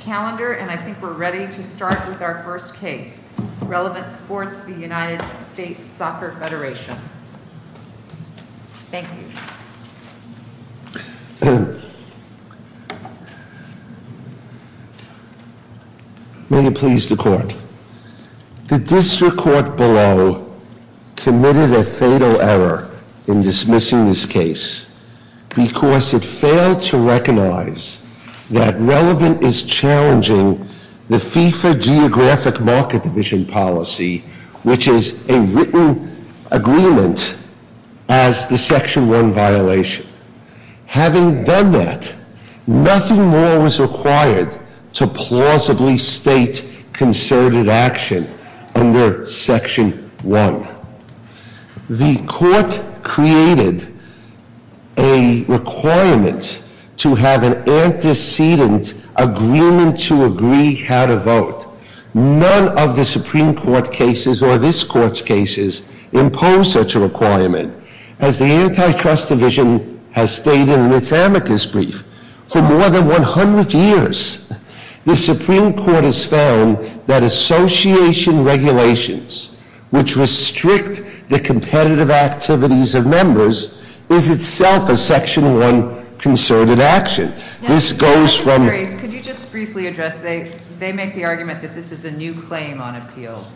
calendar and I think we're ready to start with our first case. Relevant Sports, the United States Soccer Federation. Thank you. May it please the court. The district court below committed a fatal error in dismissing this case because it failed to recognize that Relevant is challenging the FIFA geographic market division policy, which is a written agreement as the Section 1 violation. Having done that, nothing more was required to plausibly state concerted action under Section 1. The court created a requirement to have an antecedent agreement to agree how to vote. None of the Supreme Court cases or this court's cases impose such a requirement as the Antitrust Division has stated in its amicus brief. For more than 100 years, the Supreme Court has found that association regulations, which restrict the competitive activities of members, is itself a Section 1 concerted action. Could you just briefly address, they make the argument that this is a new claim on appeal.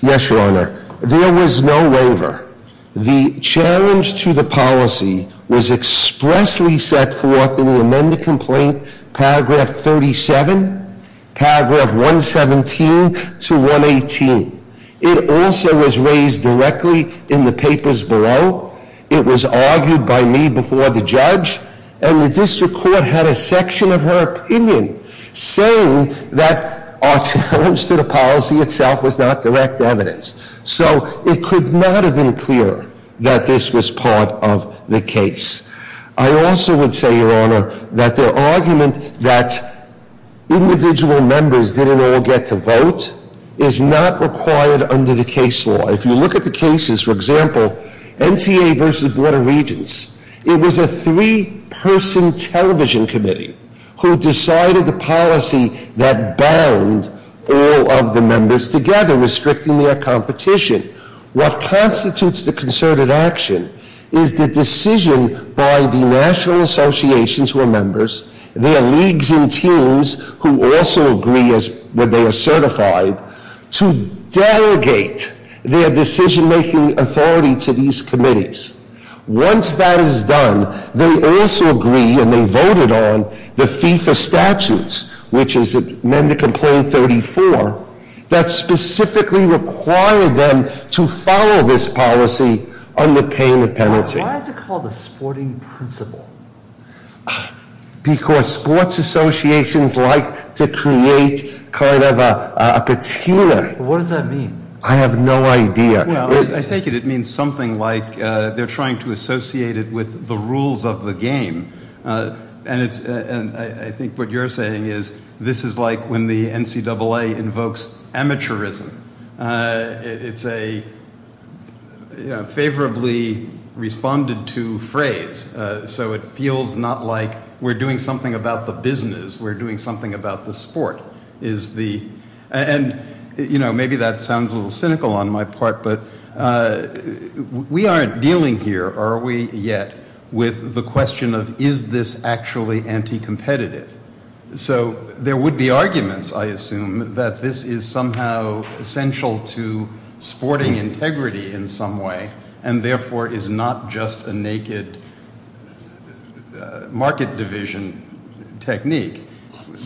Yes, Your Honor. There was no waiver. The challenge to the policy was expressly set forth in the amended complaint, paragraph 37, paragraph 117 to 118. It also was raised directly in the papers below. It was argued by me before the judge. And the district court had a section of her opinion saying that our challenge to the policy itself was not direct evidence. So it could not have been clearer that this was part of the case. I also would say, Your Honor, that the argument that individual members didn't all get to vote is not required under the case law. If you look at the cases, for example, NCA versus Board of Regents, it was a three-person television committee who decided the policy that bound all of the members together, restricting their competition. What constitutes the concerted action is the decision by the national associations who are members, their leagues and teams who also agree that they are certified, to delegate their decision-making authority to these committees. Once that is done, they also agree, and they voted on, the FIFA statutes, which is amended complaint 34, that specifically require them to follow this policy under pain of penalty. Why is it called a sporting principle? Because sports associations like to create kind of a patina. What does that mean? I have no idea. I take it it means something like they're trying to associate it with the rules of the game. And I think what you're saying is this is like when the NCAA invokes amateurism. It's a favorably responded to phrase. So it feels not like we're doing something about the business. We're doing something about the sport. And maybe that sounds a little cynical on my part, but we aren't dealing here, are we, yet with the question of is this actually anti-competitive? So there would be arguments, I assume, that this is somehow essential to sporting integrity in some way, and therefore is not just a naked market division technique.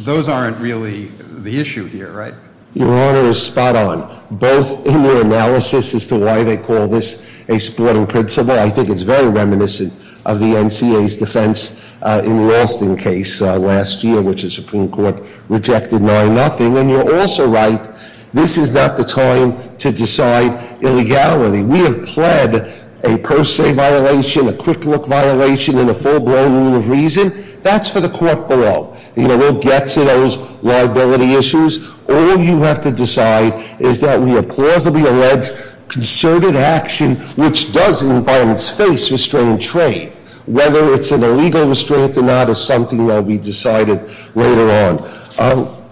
Those aren't really the issue here, right? Your Honor is spot on, both in your analysis as to why they call this a sporting principle. I think it's very reminiscent of the NCAA's defense in the Alston case last year, which the Supreme Court rejected 9-0. And you're also right, this is not the time to decide illegality. We have pled a per se violation, a quick look violation, and a full blown rule of reason. That's for the court below. We'll get to those liability issues. All you have to decide is that we plausibly allege concerted action, which does, in Biden's face, restrain trade. Whether it's an illegal restraint or not is something that will be decided later on.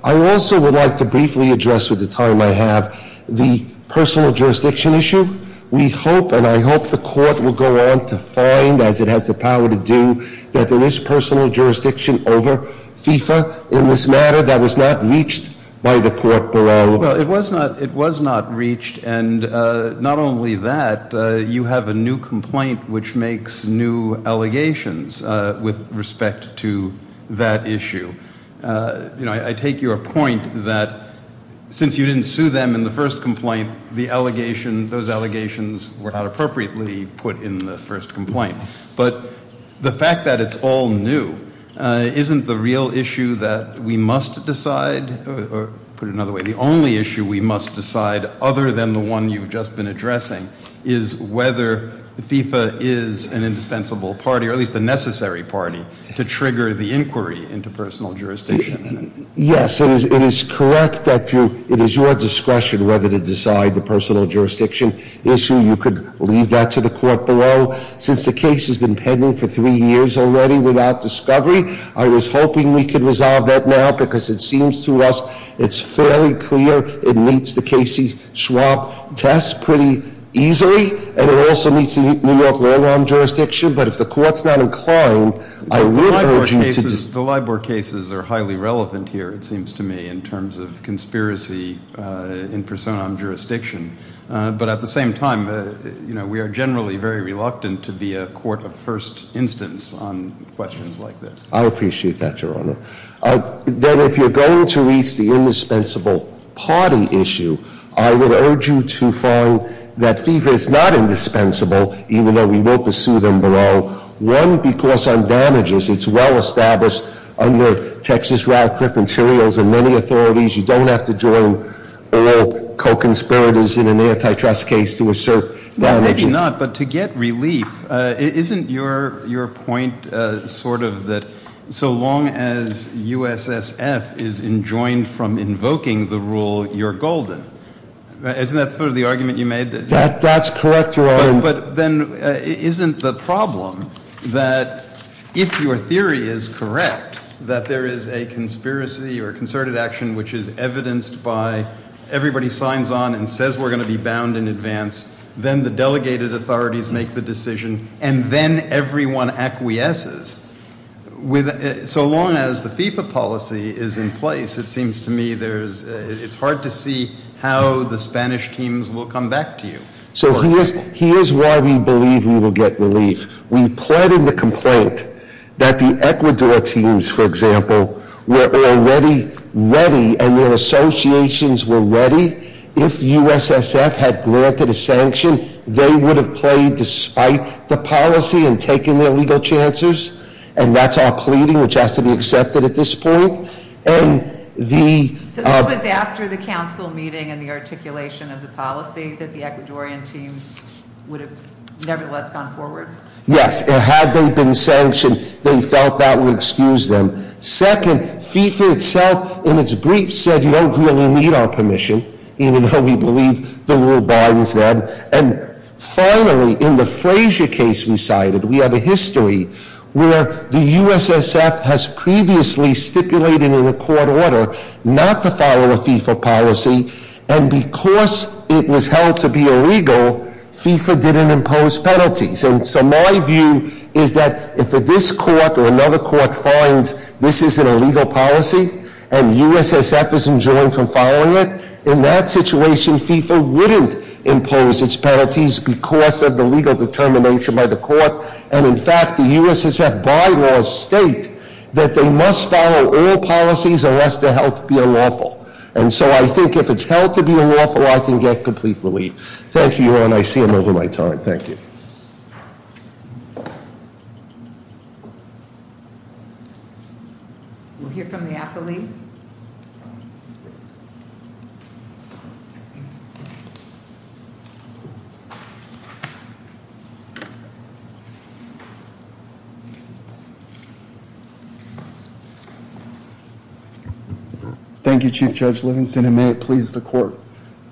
I also would like to briefly address, with the time I have, the personal jurisdiction issue. We hope, and I hope the court will go on to find, as it has the power to do, that there is personal jurisdiction over FIFA in this matter that was not reached by the court below. Well, it was not reached, and not only that, you have a new complaint which makes new allegations with respect to that issue. I take your point that since you didn't sue them in the first complaint, those allegations were not appropriately put in the first complaint. But the fact that it's all new isn't the real issue that we must decide. Put it another way, the only issue we must decide, other than the one you've just been addressing, is whether FIFA is an indispensable party, or at least a necessary party, to trigger the inquiry into personal jurisdiction. Yes, it is correct that it is your discretion whether to decide the personal jurisdiction issue. You could leave that to the court below. Since the case has been pending for three years already without discovery, I was hoping we could resolve that now because it seems to us it's fairly clear it meets the Casey-Schwab test pretty easily, and it also meets the New York law realm jurisdiction. But if the court's not inclined, I would urge you to- The Libor cases are highly relevant here, it seems to me, in terms of conspiracy in persona jurisdiction. But at the same time, we are generally very reluctant to be a court of first instance on questions like this. I appreciate that, Your Honor. Then if you're going to reach the indispensable party issue, I would urge you to find that FIFA is not indispensable, even though we will pursue them below. One, because on damages, it's well established under Texas Radcliffe materials and many authorities, you don't have to join all co-conspirators in an antitrust case to assert damages. Maybe not, but to get relief, isn't your point sort of that so long as USSF is enjoined from invoking the rule, you're golden? Isn't that sort of the argument you made? That's correct, Your Honor. But then isn't the problem that if your theory is correct, that there is a conspiracy or concerted action which is evidenced by everybody signs on and says we're going to be bound in advance, then the delegated authorities make the decision, and then everyone acquiesces? So long as the FIFA policy is in place, it seems to me it's hard to see how the Spanish teams will come back to you. So here's why we believe we will get relief. We plead in the complaint that the Ecuador teams, for example, were already ready and their associations were ready. If USSF had granted a sanction, they would have played despite the policy and taken their legal chances, and that's our pleading, which has to be accepted at this point. And the- Yes, had they been sanctioned, they felt that would excuse them. Second, FIFA itself in its brief said you don't really need our permission, even though we believe the rule binds them. And finally, in the Frazier case we cited, we have a history where the USSF has previously stipulated in a court order not to follow a FIFA policy, and because it was held to be illegal, FIFA didn't impose penalties. And so my view is that if this court or another court finds this is an illegal policy and USSF is enjoined from following it, in that situation, FIFA wouldn't impose its penalties because of the legal determination by the court. And in fact, the USSF bylaws state that they must follow all policies unless they're held to be unlawful. And so I think if it's held to be unlawful, I can get complete relief. Thank you all, and I see I'm over my time. Thank you. We'll hear from the affilee. Thank you, Chief Judge Livingston, and may it please the court.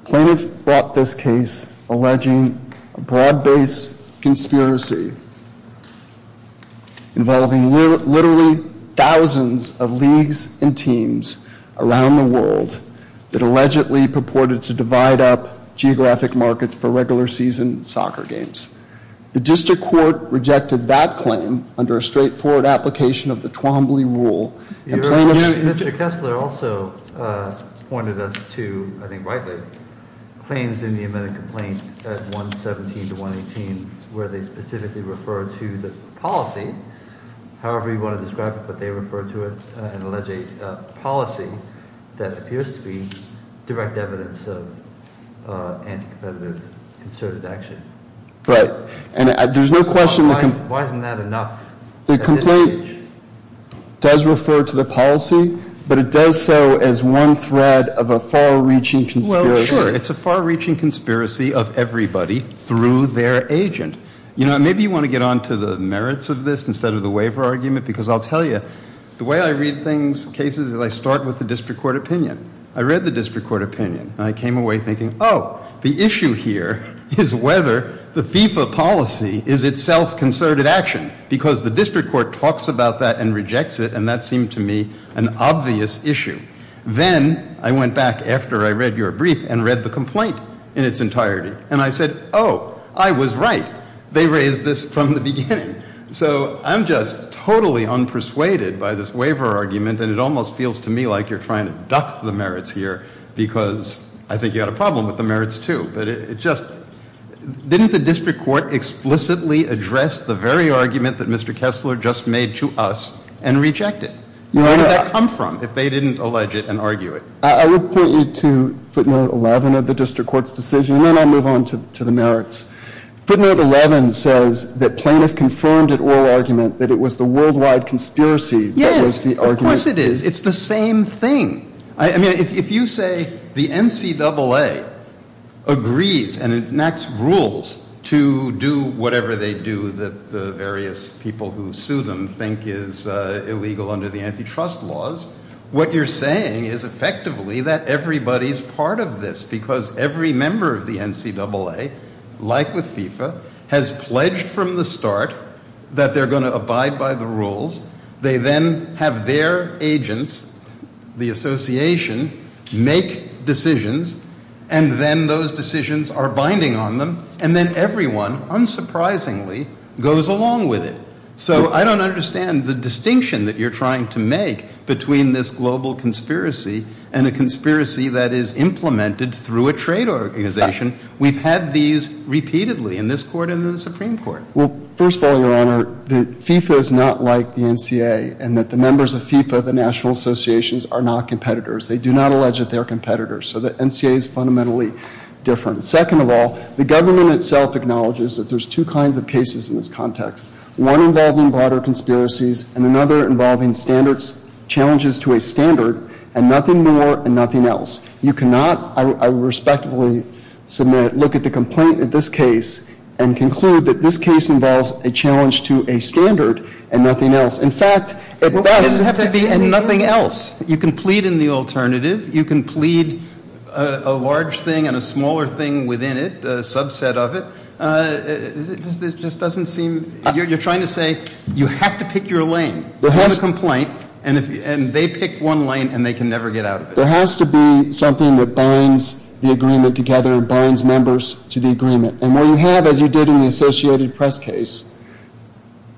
Plaintiff brought this case alleging a broad-based conspiracy involving literally thousands of leagues and teams around the world that allegedly purported to divide up geographic markets for regular season soccer games. The district court rejected that claim under a straightforward application of the Twombly rule. Mr. Kessler also pointed us to, I think rightly, claims in the amended complaint at 117 to 118 where they specifically refer to the policy, however you want to describe it, but they refer to it and allege a policy that appears to be direct evidence of anti-competitive concerted action. Right, and there's no question- Why isn't that enough at this stage? It does refer to the policy, but it does so as one thread of a far-reaching conspiracy. Well, sure, it's a far-reaching conspiracy of everybody through their agent. You know, maybe you want to get onto the merits of this instead of the waiver argument, because I'll tell you, the way I read things, cases, is I start with the district court opinion. I read the district court opinion, and I came away thinking, oh, the issue here is whether the FIFA policy is itself concerted action, because the district court talks about that and rejects it, and that seemed to me an obvious issue. Then I went back after I read your brief and read the complaint in its entirety, and I said, oh, I was right. They raised this from the beginning. So I'm just totally unpersuaded by this waiver argument, and it almost feels to me like you're trying to duck the merits here, but it just didn't the district court explicitly address the very argument that Mr. Kessler just made to us and reject it? Where would that come from if they didn't allege it and argue it? I would point you to footnote 11 of the district court's decision, and then I'll move on to the merits. Footnote 11 says that plaintiff confirmed at oral argument that it was the worldwide conspiracy that was the argument. Yes, of course it is. It's the same thing. I mean, if you say the NCAA agrees and enacts rules to do whatever they do that the various people who sue them think is illegal under the antitrust laws, what you're saying is effectively that everybody's part of this, because every member of the NCAA, like with FIFA, has pledged from the start that they're going to abide by the rules. They then have their agents, the association, make decisions, and then those decisions are binding on them, and then everyone, unsurprisingly, goes along with it. So I don't understand the distinction that you're trying to make between this global conspiracy and a conspiracy that is implemented through a trade organization. We've had these repeatedly in this court and in the Supreme Court. Well, first of all, Your Honor, FIFA is not like the NCAA in that the members of FIFA, the national associations, are not competitors. They do not allege that they are competitors, so the NCAA is fundamentally different. Second of all, the government itself acknowledges that there's two kinds of cases in this context, one involving broader conspiracies and another involving standards, challenges to a standard, and nothing more and nothing else. You cannot, I respectfully submit, look at the complaint in this case and conclude that this case involves a challenge to a standard and nothing else. In fact, at best, it has to be nothing else. You can plead in the alternative. You can plead a large thing and a smaller thing within it, a subset of it. It just doesn't seem – you're trying to say you have to pick your lane. You have a complaint, and they pick one lane, and they can never get out of it. There has to be something that binds the agreement together, binds members to the agreement. And what you have, as you did in the associated press case,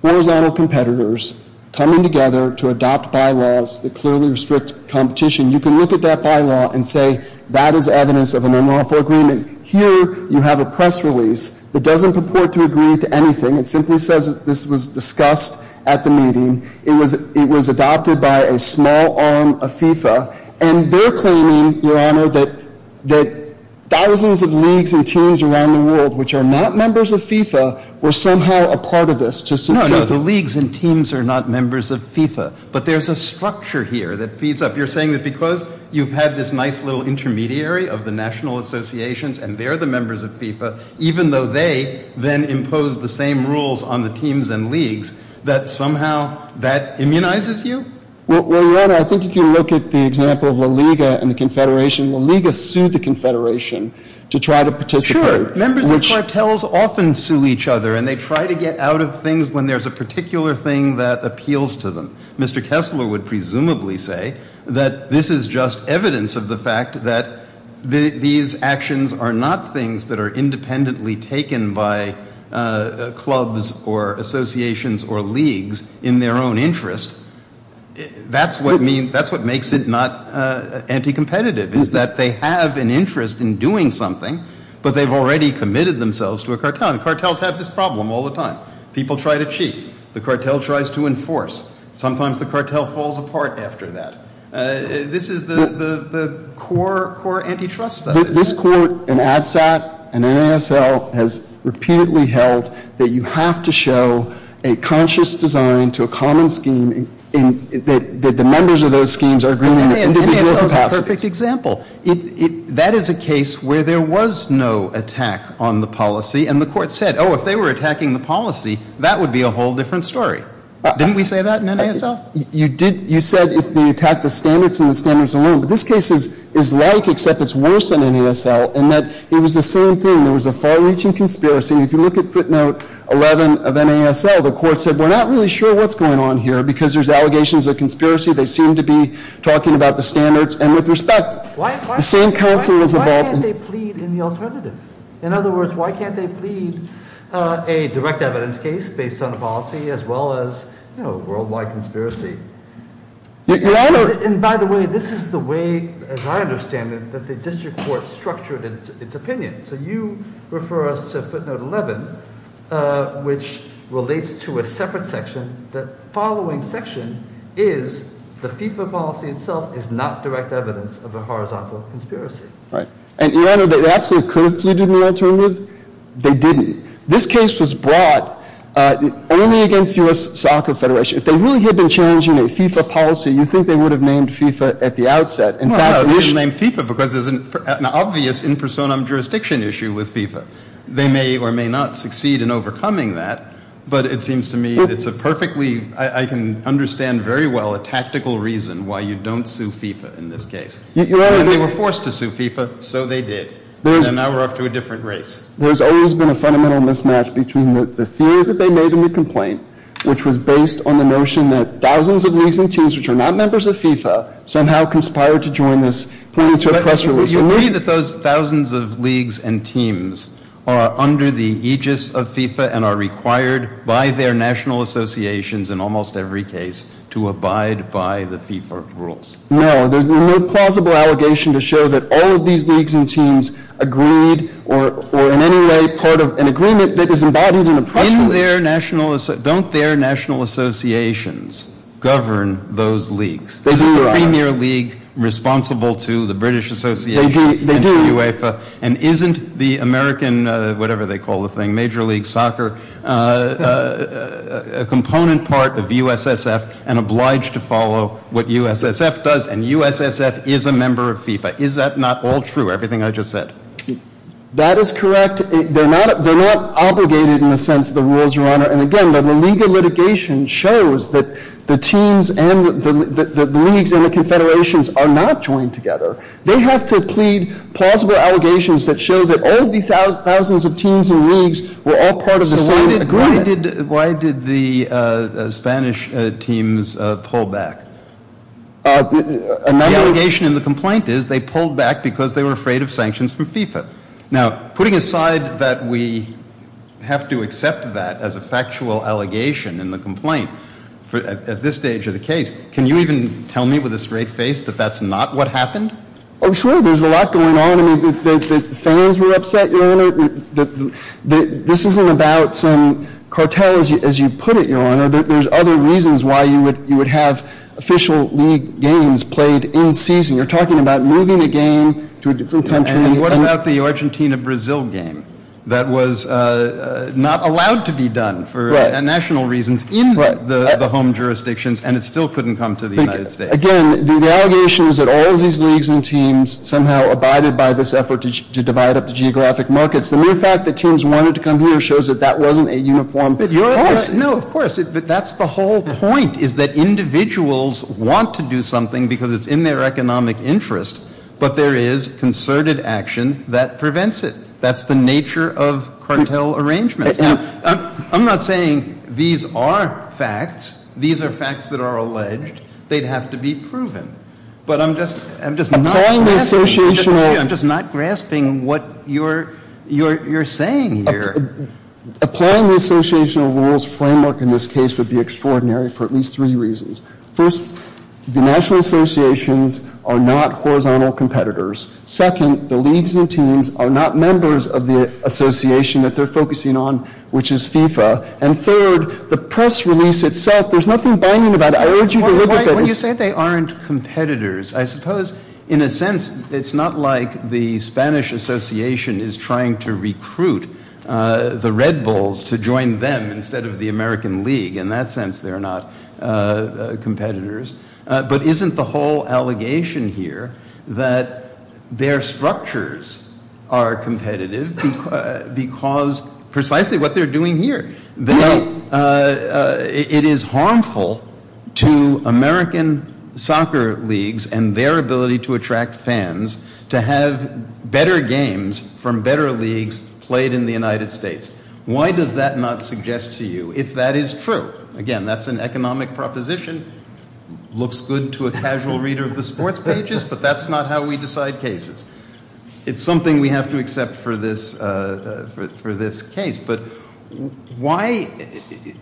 horizontal competitors coming together to adopt bylaws that clearly restrict competition. You can look at that bylaw and say that is evidence of an unlawful agreement. Here, you have a press release that doesn't purport to agree to anything. It simply says that this was discussed at the meeting. It was adopted by a small arm of FIFA. And they're claiming, Your Honor, that thousands of leagues and teams around the world, which are not members of FIFA, were somehow a part of this. No, no, the leagues and teams are not members of FIFA. But there's a structure here that feeds up. You're saying that because you've had this nice little intermediary of the national associations, and they're the members of FIFA, even though they then impose the same rules on the teams and leagues, that somehow that immunizes you? Well, Your Honor, I think if you look at the example of La Liga and the Confederation, La Liga sued the Confederation to try to participate. Sure. Members of cartels often sue each other, and they try to get out of things when there's a particular thing that appeals to them. Mr. Kessler would presumably say that this is just evidence of the fact that these actions are not things that are independently taken by clubs or associations or leagues in their own interest. That's what makes it not anti-competitive, is that they have an interest in doing something, but they've already committed themselves to a cartel. And cartels have this problem all the time. People try to cheat. The cartel tries to enforce. Sometimes the cartel falls apart after that. This is the core antitrust study. This Court in ADSAT and NASL has repeatedly held that you have to show a conscious design to a common scheme and that the members of those schemes are agreeing on individual capacities. NASL is a perfect example. That is a case where there was no attack on the policy, and the Court said, oh, if they were attacking the policy, that would be a whole different story. Didn't we say that in NASL? You did. You said they attacked the standards and the standards alone. But this case is like except it's worse than NASL in that it was the same thing. There was a far-reaching conspiracy. If you look at footnote 11 of NASL, the Court said we're not really sure what's going on here because there's allegations of conspiracy. They seem to be talking about the standards. And with respect, the same counsel was involved. Why can't they plead in the alternative? In other words, why can't they plead a direct evidence case based on a policy as well as, you know, a worldwide conspiracy? Your Honor. And by the way, this is the way, as I understand it, that the district court structured its opinion. So you refer us to footnote 11, which relates to a separate section. The following section is the FIFA policy itself is not direct evidence of a horizontal conspiracy. Right. And, Your Honor, they absolutely could have pleaded in the alternative. They didn't. This case was brought only against U.S. Soccer Federation. If they really had been challenging a FIFA policy, you think they would have named FIFA at the outset. No, they didn't name FIFA because there's an obvious in personam jurisdiction issue with FIFA. They may or may not succeed in overcoming that. But it seems to me it's a perfectly, I can understand very well, a tactical reason why you don't sue FIFA in this case. And they were forced to sue FIFA, so they did. And now we're off to a different race. There's always been a fundamental mismatch between the theory that they made in the complaint, which was based on the notion that thousands of leagues and teams, which are not members of FIFA, somehow conspired to join this planning to oppress release. Do you agree that those thousands of leagues and teams are under the aegis of FIFA and are required by their national associations in almost every case to abide by the FIFA rules? No, there's no plausible allegation to show that all of these leagues and teams agreed or in any way part of an agreement that is embodied in the press release. Don't their national associations govern those leagues? There's a Premier League responsible to the British Association and to UEFA. And isn't the American, whatever they call the thing, Major League Soccer, a component part of USSF and obliged to follow what USSF does? And USSF is a member of FIFA. Is that not all true, everything I just said? That is correct. They're not obligated in the sense of the rules, Your Honor. And again, the legal litigation shows that the leagues and the confederations are not joined together. They have to plead plausible allegations that show that all of these thousands of teams and leagues were all part of the same agreement. So why did the Spanish teams pull back? The allegation in the complaint is they pulled back because they were afraid of sanctions from FIFA. Now, putting aside that we have to accept that as a factual allegation in the complaint, at this stage of the case, can you even tell me with a straight face that that's not what happened? Oh, sure. There's a lot going on. The fans were upset, Your Honor. This isn't about some cartel, as you put it, Your Honor. There's other reasons why you would have official league games played in season. You're talking about moving a game to a different country. And what about the Argentina-Brazil game that was not allowed to be done for national reasons in the home jurisdictions, and it still couldn't come to the United States? Again, the allegation is that all of these leagues and teams somehow abided by this effort to divide up the geographic markets. The mere fact that teams wanted to come here shows that that wasn't a uniform process. No, of course. But that's the whole point is that individuals want to do something because it's in their economic interest, but there is concerted action that prevents it. That's the nature of cartel arrangements. Now, I'm not saying these are facts. These are facts that are alleged. They'd have to be proven. But I'm just not grasping what you're saying here. Applying the associational rules framework in this case would be extraordinary for at least three reasons. First, the national associations are not horizontal competitors. Second, the leagues and teams are not members of the association that they're focusing on, which is FIFA. And third, the press release itself, there's nothing banging about it. I urge you to look at that. When you say they aren't competitors, I suppose, in a sense, it's not like the Spanish Association is trying to recruit the Red Bulls to join them instead of the American League. In that sense, they're not competitors. But isn't the whole allegation here that their structures are competitive because precisely what they're doing here? It is harmful to American soccer leagues and their ability to attract fans to have better games from better leagues played in the United States. Why does that not suggest to you if that is true? Again, that's an economic proposition. Looks good to a casual reader of the sports pages, but that's not how we decide cases. It's something we have to accept for this case. But why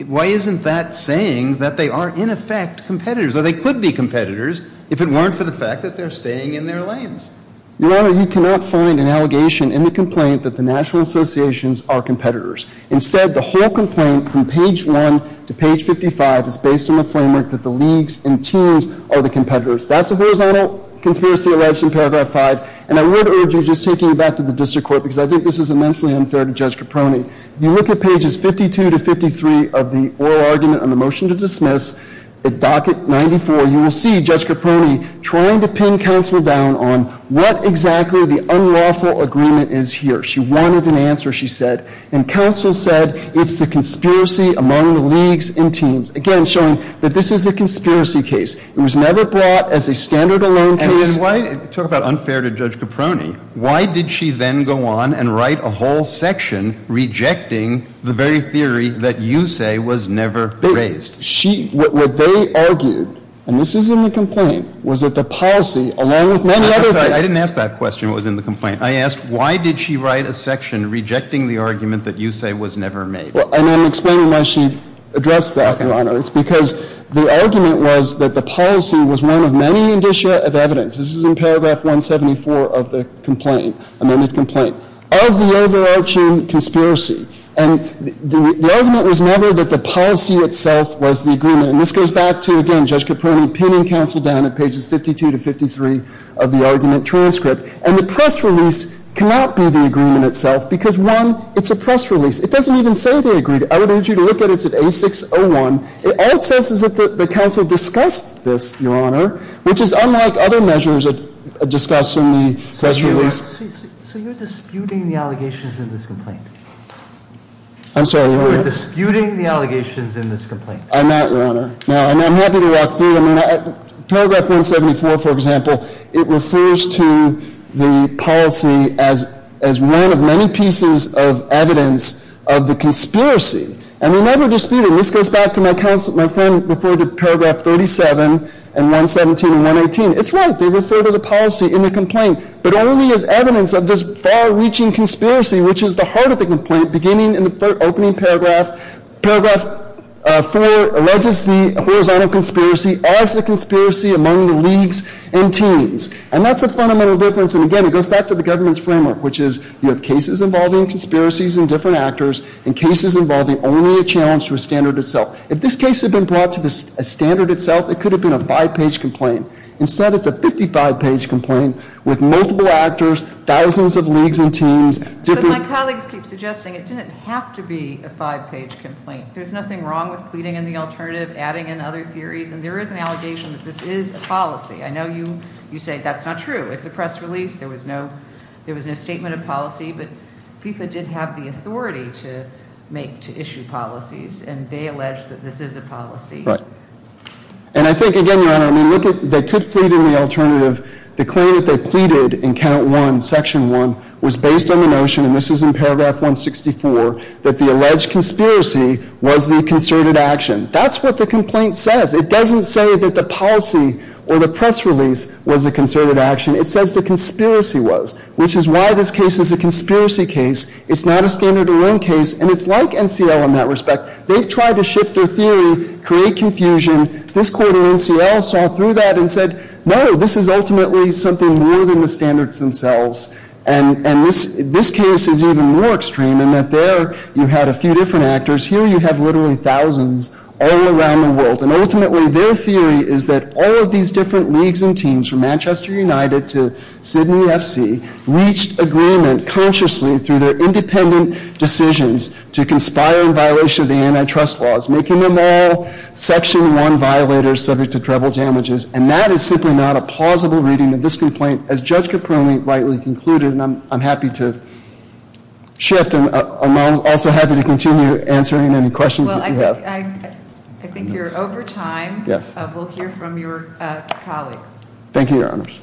isn't that saying that they are, in effect, competitors? Or they could be competitors if it weren't for the fact that they're staying in their lanes. Your Honor, you cannot find an allegation in the complaint that the national associations are competitors. Instead, the whole complaint from page 1 to page 55 is based on the framework that the leagues and teams are the competitors. That's a horizontal conspiracy alleged in paragraph 5. And I would urge you, just taking you back to the district court, because I think this is immensely unfair to Judge Caproni, if you look at pages 52 to 53 of the oral argument on the motion to dismiss, at docket 94, you will see Judge Caproni trying to pin counsel down on what exactly the unlawful agreement is here. She wanted an answer, she said. And counsel said it's the conspiracy among the leagues and teams. Again, showing that this is a conspiracy case. It was never brought as a standard alone case. And talk about unfair to Judge Caproni. Why did she then go on and write a whole section rejecting the very theory that you say was never raised? She, what they argued, and this is in the complaint, was that the policy, along with many other things. I'm sorry. I didn't ask that question, what was in the complaint. I asked why did she write a section rejecting the argument that you say was never made? Well, and I'm explaining why she addressed that, Your Honor. It's because the argument was that the policy was one of many indicia of evidence. This is in paragraph 174 of the complaint, amended complaint, of the overarching conspiracy. And the argument was never that the policy itself was the agreement. And this goes back to, again, Judge Caproni pinning counsel down at pages 52 to 53 of the argument transcript. And the press release cannot be the agreement itself because, one, it's a press release. It doesn't even say they agreed. I would urge you to look at it. It's at A601. All it says is that the counsel discussed this, Your Honor, which is unlike other measures discussed in the press release. So you're disputing the allegations in this complaint? I'm sorry. You're disputing the allegations in this complaint? I'm not, Your Honor. No, I'm happy to walk through them. Paragraph 174, for example, it refers to the policy as one of many pieces of evidence of the conspiracy. And we never dispute it. And this goes back to my friend referred to paragraph 37 and 117 and 118. It's right. They refer to the policy in the complaint. But only as evidence of this far-reaching conspiracy, which is the heart of the complaint, beginning in the opening paragraph. Paragraph 4 alleges the horizontal conspiracy as a conspiracy among the leagues and teams. And that's the fundamental difference. And, again, it goes back to the government's framework, which is you have cases involving conspiracies and different actors and cases involving only a challenge to a standard itself. If this case had been brought to a standard itself, it could have been a five-page complaint. Instead, it's a 55-page complaint with multiple actors, thousands of leagues and teams. But my colleagues keep suggesting it didn't have to be a five-page complaint. There's nothing wrong with pleading in the alternative, adding in other theories. And there is an allegation that this is a policy. I know you say that's not true. It's a press release. There was no statement of policy. But FIFA did have the authority to issue policies. And they allege that this is a policy. Right. And I think, again, Your Honor, I mean, look at they could plead in the alternative. The claim that they pleaded in count one, section one, was based on the notion, and this is in paragraph 164, that the alleged conspiracy was the concerted action. That's what the complaint says. It doesn't say that the policy or the press release was a concerted action. It says the conspiracy was, which is why this case is a conspiracy case. It's not a standard alone case. And it's like NCL in that respect. They've tried to shift their theory, create confusion. This court in NCL saw through that and said, no, this is ultimately something more than the standards themselves. And this case is even more extreme in that there you had a few different actors. Here you have literally thousands all around the world. And ultimately their theory is that all of these different leagues and teams, from Manchester United to Sydney FC, reached agreement consciously through their independent decisions to conspire in violation of the antitrust laws, making them all section one violators subject to treble damages. And that is simply not a plausible reading of this complaint, as Judge Caprone rightly concluded. And I'm happy to shift, and I'm also happy to continue answering any questions that you have. Well, I think you're over time. Yes. We'll hear from your colleagues. Thank you, Your Honors. Thank you, Your Honors.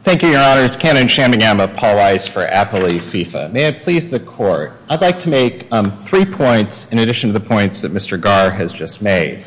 Thank you, Your Honors. Ken Inshamigam of Paul Rice for Appley FIFA. May it please the court, I'd like to make three points in addition to the points that Mr. Garr has just made.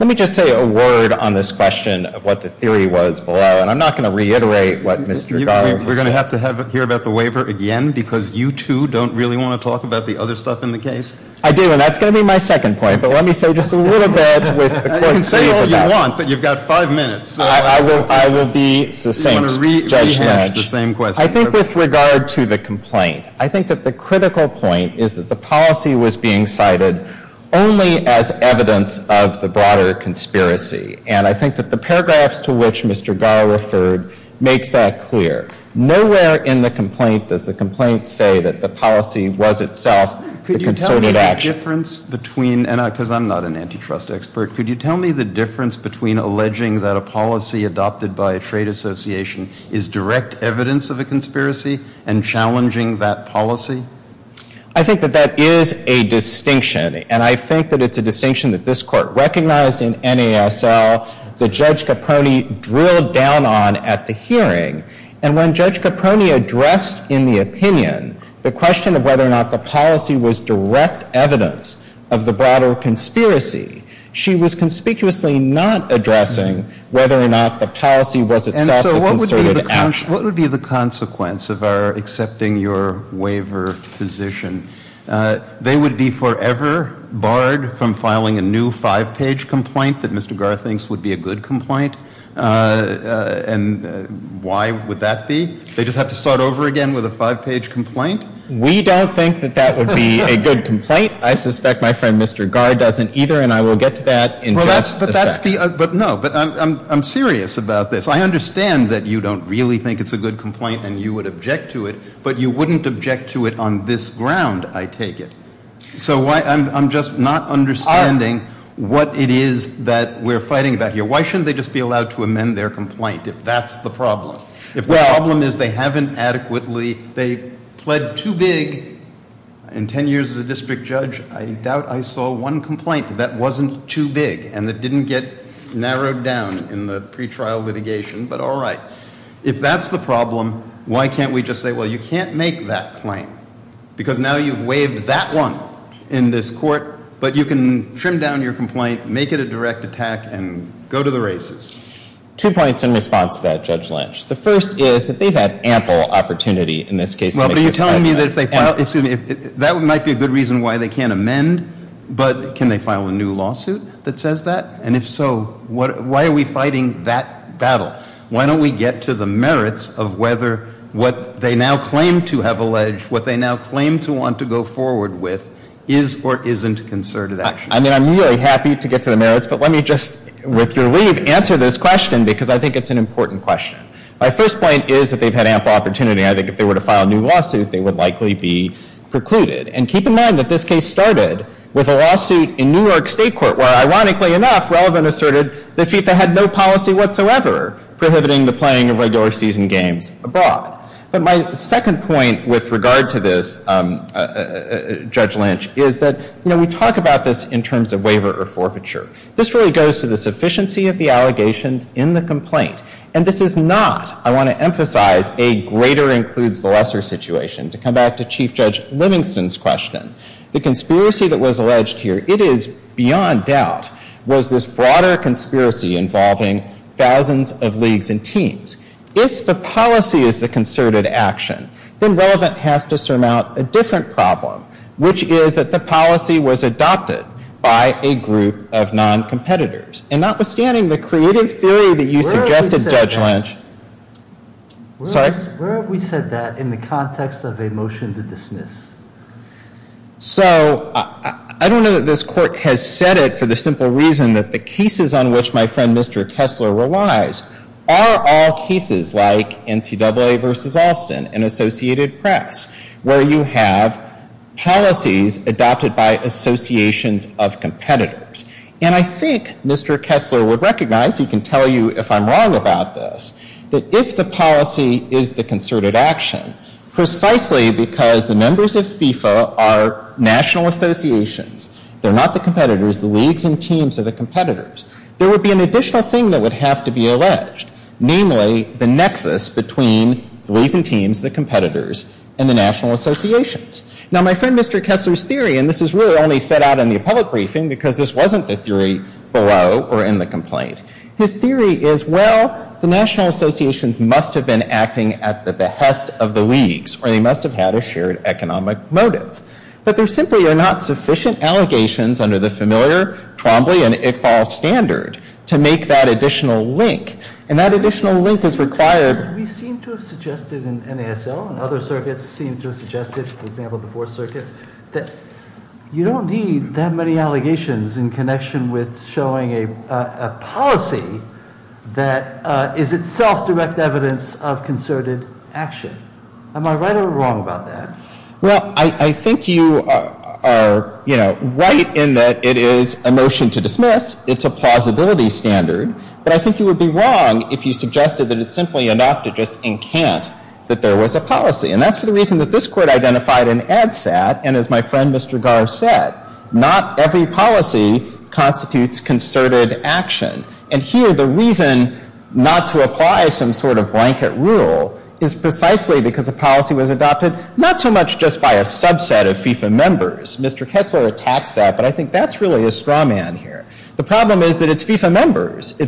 Let me just say a word on this question of what the theory was below. And I'm not going to reiterate what Mr. Garr has said. We're going to have to hear about the waiver again, because you two don't really want to talk about the other stuff in the case. I do, and that's going to be my second point. But let me say just a little bit with the court's leave of that. You can say all you want, but you've got five minutes. I will be succinct, Judge Lynch. Do you want to re-hash the same question? I think with regard to the complaint, I think that the critical point is that the policy was being cited only as evidence of the broader conspiracy. And I think that the paragraphs to which Mr. Garr referred makes that clear. Nowhere in the complaint does the complaint say that the policy was itself the concerted action. Could you tell me the difference between, because I'm not an antitrust expert, could you tell me the difference between alleging that a policy adopted by a trade association is direct evidence of a conspiracy and challenging that policy? I think that that is a distinction. And I think that it's a distinction that this court recognized in NASL that Judge Caproni drilled down on at the hearing. And when Judge Caproni addressed in the opinion the question of whether or not the policy was direct evidence of the broader conspiracy, she was conspicuously not addressing whether or not the policy was itself the concerted action. And so what would be the consequence of our accepting your waiver position? They would be forever barred from filing a new five-page complaint that Mr. Garr thinks would be a good complaint. And why would that be? They just have to start over again with a five-page complaint? We don't think that that would be a good complaint. I suspect my friend Mr. Garr doesn't either, and I will get to that in just a second. But that's the – but no, but I'm serious about this. I understand that you don't really think it's a good complaint and you would object to it, but you wouldn't object to it on this ground, I take it. So I'm just not understanding what it is that we're fighting about here. Why shouldn't they just be allowed to amend their complaint if that's the problem? If the problem is they haven't adequately – they pled too big. In ten years as a district judge, I doubt I saw one complaint that wasn't too big and that didn't get narrowed down in the pretrial litigation, but all right. If that's the problem, why can't we just say, well, you can't make that claim because now you've waived that one in this court, but you can trim down your complaint, make it a direct attack, and go to the races. Two points in response to that, Judge Lynch. The first is that they've had ample opportunity in this case to make this kind of claim. Well, but you're telling me that if they file – excuse me, that might be a good reason why they can't amend, but can they file a new lawsuit that says that? And if so, why are we fighting that battle? Why don't we get to the merits of whether what they now claim to have alleged, what they now claim to want to go forward with, is or isn't concerted action? I mean, I'm really happy to get to the merits, but let me just, with your leave, answer this question because I think it's an important question. My first point is that they've had ample opportunity. I think if they were to file a new lawsuit, they would likely be precluded. And keep in mind that this case started with a lawsuit in New York State court where, ironically enough, Relevant asserted that FIFA had no policy whatsoever prohibiting the playing of regular season games abroad. But my second point with regard to this, Judge Lynch, is that, you know, we talk about this in terms of waiver or forfeiture. This really goes to the sufficiency of the allegations in the complaint. And this is not, I want to emphasize, a greater includes the lesser situation. To come back to Chief Judge Livingston's question, the conspiracy that was alleged here, it is beyond doubt, was this broader conspiracy involving thousands of leagues and teams. If the policy is the concerted action, then Relevant has to surmount a different problem, which is that the policy was adopted by a group of non-competitors. And notwithstanding the creative theory that you suggested, Judge Lynch. Where have we said that in the context of a motion to dismiss? So, I don't know that this court has said it for the simple reason that the cases on which my friend Mr. Kessler relies are all cases like NCAA versus Austin and Associated Press, where you have policies adopted by associations of competitors. And I think Mr. Kessler would recognize, he can tell you if I'm wrong about this, that if the policy is the concerted action, precisely because the members of FIFA are national associations, they're not the competitors, the leagues and teams are the competitors, there would be an additional thing that would have to be alleged. Namely, the nexus between the leagues and teams, the competitors, and the national associations. Now, my friend Mr. Kessler's theory, and this is really only set out in the appellate briefing because this wasn't the theory below or in the complaint. His theory is, well, the national associations must have been acting at the behest of the leagues or they must have had a shared economic motive. But there simply are not sufficient allegations under the familiar Trombley and Iqbal standard to make that additional link. And that additional link is required. We seem to have suggested in NASL and other circuits seem to have suggested, for example, the Fourth Circuit, that you don't need that many allegations in connection with showing a policy that is itself direct evidence of concerted action. Am I right or wrong about that? Well, I think you are, you know, right in that it is a motion to dismiss. It's a plausibility standard. But I think you would be wrong if you suggested that it's simply enough to just encant that there was a policy. And that's for the reason that this Court identified in ADSAT. And as my friend Mr. Garr said, not every policy constitutes concerted action. And here the reason not to apply some sort of blanket rule is precisely because a policy was adopted, not so much just by a subset of FIFA members. Mr. Kessler attacks that, but I think that's really a straw man here. The problem is that it's FIFA members.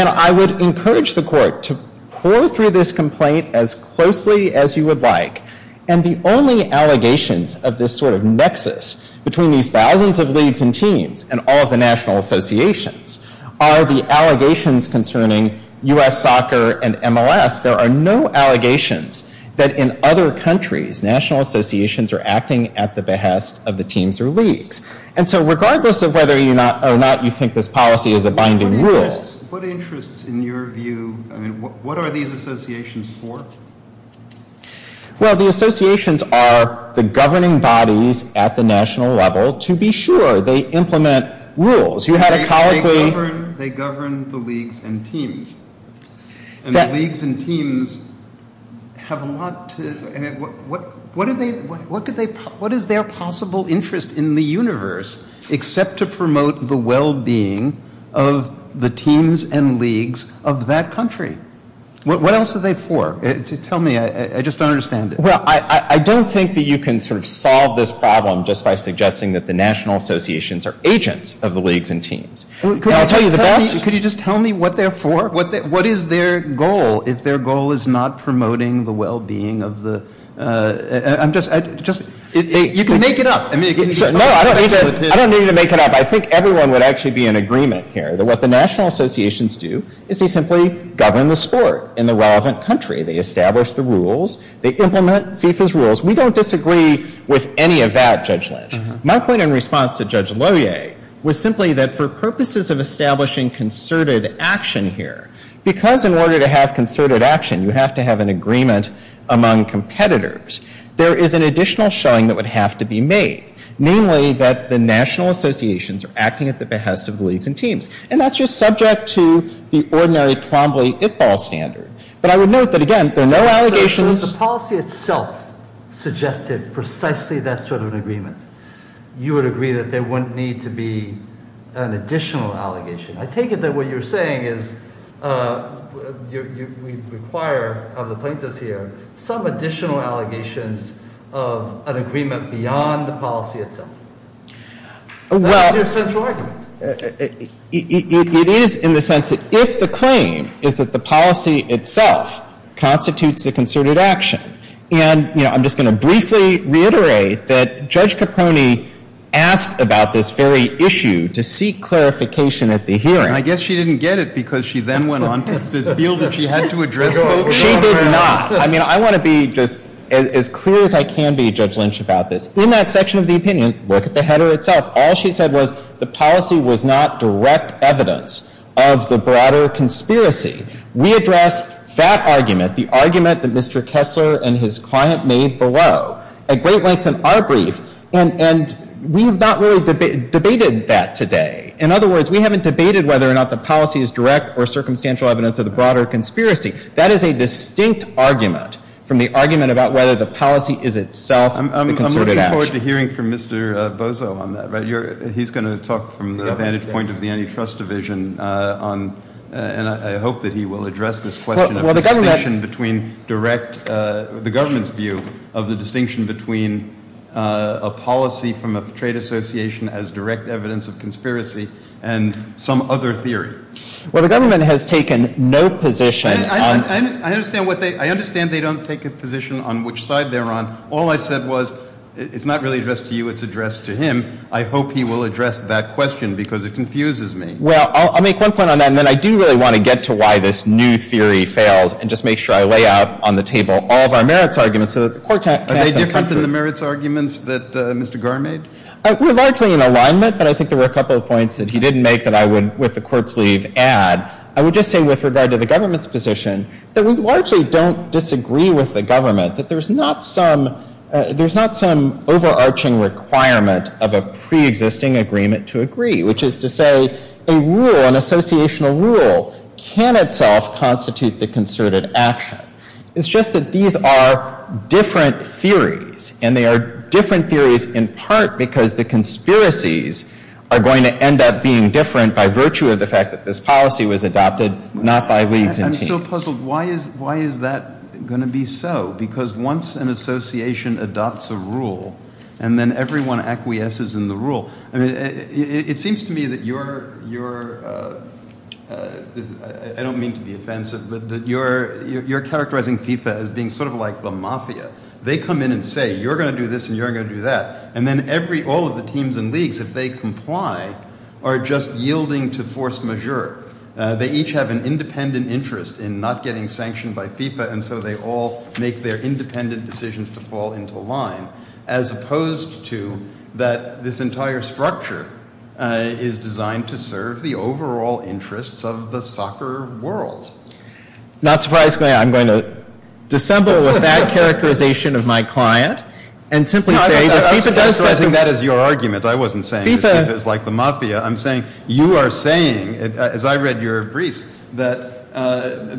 And I would encourage the Court to pour through this complaint as closely as you would like. And the only allegations of this sort of nexus between these thousands of leagues and teams and all of the national associations are the allegations concerning U.S. soccer and MLS. There are no allegations that in other countries, national associations are acting at the behest of the teams or leagues. And so regardless of whether or not you think this policy is a binding rule. What interests in your view, I mean, what are these associations for? Well, the associations are the governing bodies at the national level to be sure they implement rules. You had a colloquy. They govern the leagues and teams. And the leagues and teams have a lot to, I mean, what is their possible interest in the universe except to promote the well-being of the teams and leagues of that country? What else are they for? Tell me. I just don't understand it. Well, I don't think that you can sort of solve this problem just by suggesting that the national associations are agents of the leagues and teams. And I'll tell you the best. Tell me what they're for. What is their goal if their goal is not promoting the well-being of the, I'm just, you can make it up. No, I don't need you to make it up. I think everyone would actually be in agreement here that what the national associations do is they simply govern the sport in the relevant country. They establish the rules. They implement FIFA's rules. We don't disagree with any of that, Judge Lynch. My point in response to Judge Lohier was simply that for purposes of establishing concerted action here, because in order to have concerted action, you have to have an agreement among competitors, there is an additional showing that would have to be made, namely that the national associations are acting at the behest of the leagues and teams. And that's just subject to the ordinary Twombly-Ippol standard. But I would note that, again, there are no allegations. So if the policy itself suggested precisely that sort of an agreement, you would agree that there wouldn't need to be an additional allegation. I take it that what you're saying is we require of the plaintiffs here some additional allegations of an agreement beyond the policy itself. That is your central argument. It is in the sense that if the claim is that the policy itself constitutes a concerted action, and I'm just going to briefly reiterate that Judge Capone asked about this very issue to seek clarification at the hearing. I guess she didn't get it because she then went on to feel that she had to address it. She did not. I mean, I want to be just as clear as I can be, Judge Lynch, about this. In that section of the opinion, look at the header itself. All she said was the policy was not direct evidence of the broader conspiracy. We address that argument, the argument that Mr. Kessler and his client made below, at great length in our brief, and we have not really debated that today. In other words, we haven't debated whether or not the policy is direct or circumstantial evidence of the broader conspiracy. That is a distinct argument from the argument about whether the policy is itself a concerted action. Well, I look forward to hearing from Mr. Bozo on that. He's going to talk from the vantage point of the antitrust division, and I hope that he will address this question of the distinction between direct, the government's view of the distinction between a policy from a trade association as direct evidence of conspiracy and some other theory. Well, the government has taken no position. I understand they don't take a position on which side they're on. All I said was it's not really addressed to you, it's addressed to him. I hope he will address that question because it confuses me. Well, I'll make one point on that, and then I do really want to get to why this new theory fails and just make sure I lay out on the table all of our merits arguments so that the court can have some comfort. Are they different than the merits arguments that Mr. Garr made? We're largely in alignment, but I think there were a couple of points that he didn't make that I would, with the court's leave, add. I would just say with regard to the government's position that we largely don't disagree with the government, that there's not some overarching requirement of a preexisting agreement to agree, which is to say a rule, an associational rule, can itself constitute the concerted action. It's just that these are different theories, and they are different theories in part because the conspiracies are going to end up being different by virtue of the fact that this policy was adopted not by leagues and teams. I'm still puzzled. Why is that going to be so? Because once an association adopts a rule and then everyone acquiesces in the rule, it seems to me that you're – I don't mean to be offensive, but you're characterizing FIFA as being sort of like the mafia. They come in and say you're going to do this and you're going to do that, and then all of the teams and leagues, if they comply, are just yielding to force majeure. They each have an independent interest in not getting sanctioned by FIFA, and so they all make their independent decisions to fall into line, as opposed to that this entire structure is designed to serve the overall interests of the soccer world. Not surprisingly, I'm going to dissemble with that characterization of my client and simply say that FIFA does something – I'm characterizing that as your argument. I wasn't saying that FIFA is like the mafia. I'm saying you are saying, as I read your briefs, that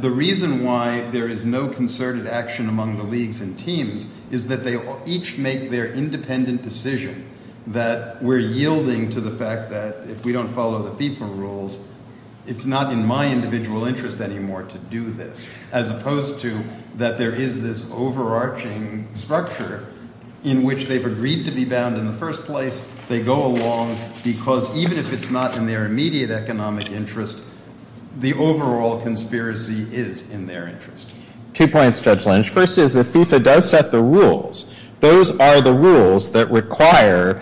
the reason why there is no concerted action among the leagues and teams is that they each make their independent decision that we're yielding to the fact that if we don't follow the FIFA rules, it's not in my individual interest anymore to do this, as opposed to that there is this overarching structure in which they've agreed to be bound in the first place. They go along because even if it's not in their immediate economic interest, the overall conspiracy is in their interest. Two points, Judge Lynch. First is that FIFA does set the rules. Those are the rules that require,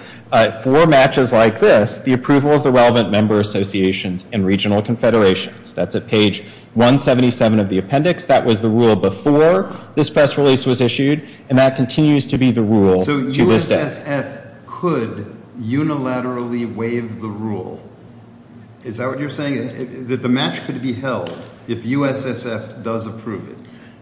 for matches like this, the approval of the relevant member associations and regional confederations. That's at page 177 of the appendix. That was the rule before this press release was issued, and that continues to be the rule to this day. So USSF could unilaterally waive the rule? Is that what you're saying, that the match could be held if USSF does approve it?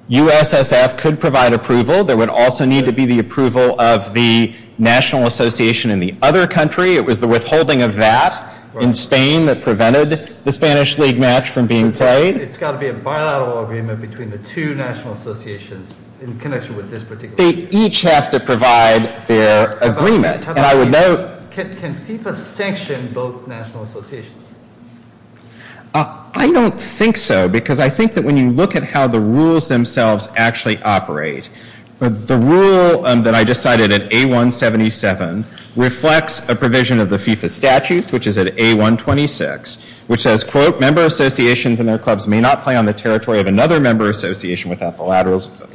USSF could provide approval. There would also need to be the approval of the national association in the other country. It was the withholding of that in Spain that prevented the Spanish League match from being played. It's got to be a bilateral agreement between the two national associations in connection with this particular match. They each have to provide their agreement. Can FIFA sanction both national associations? I don't think so, because I think that when you look at how the rules themselves actually operate, the rule that I just cited at A177 reflects a provision of the FIFA statutes, which is at A126, which says, quote, without the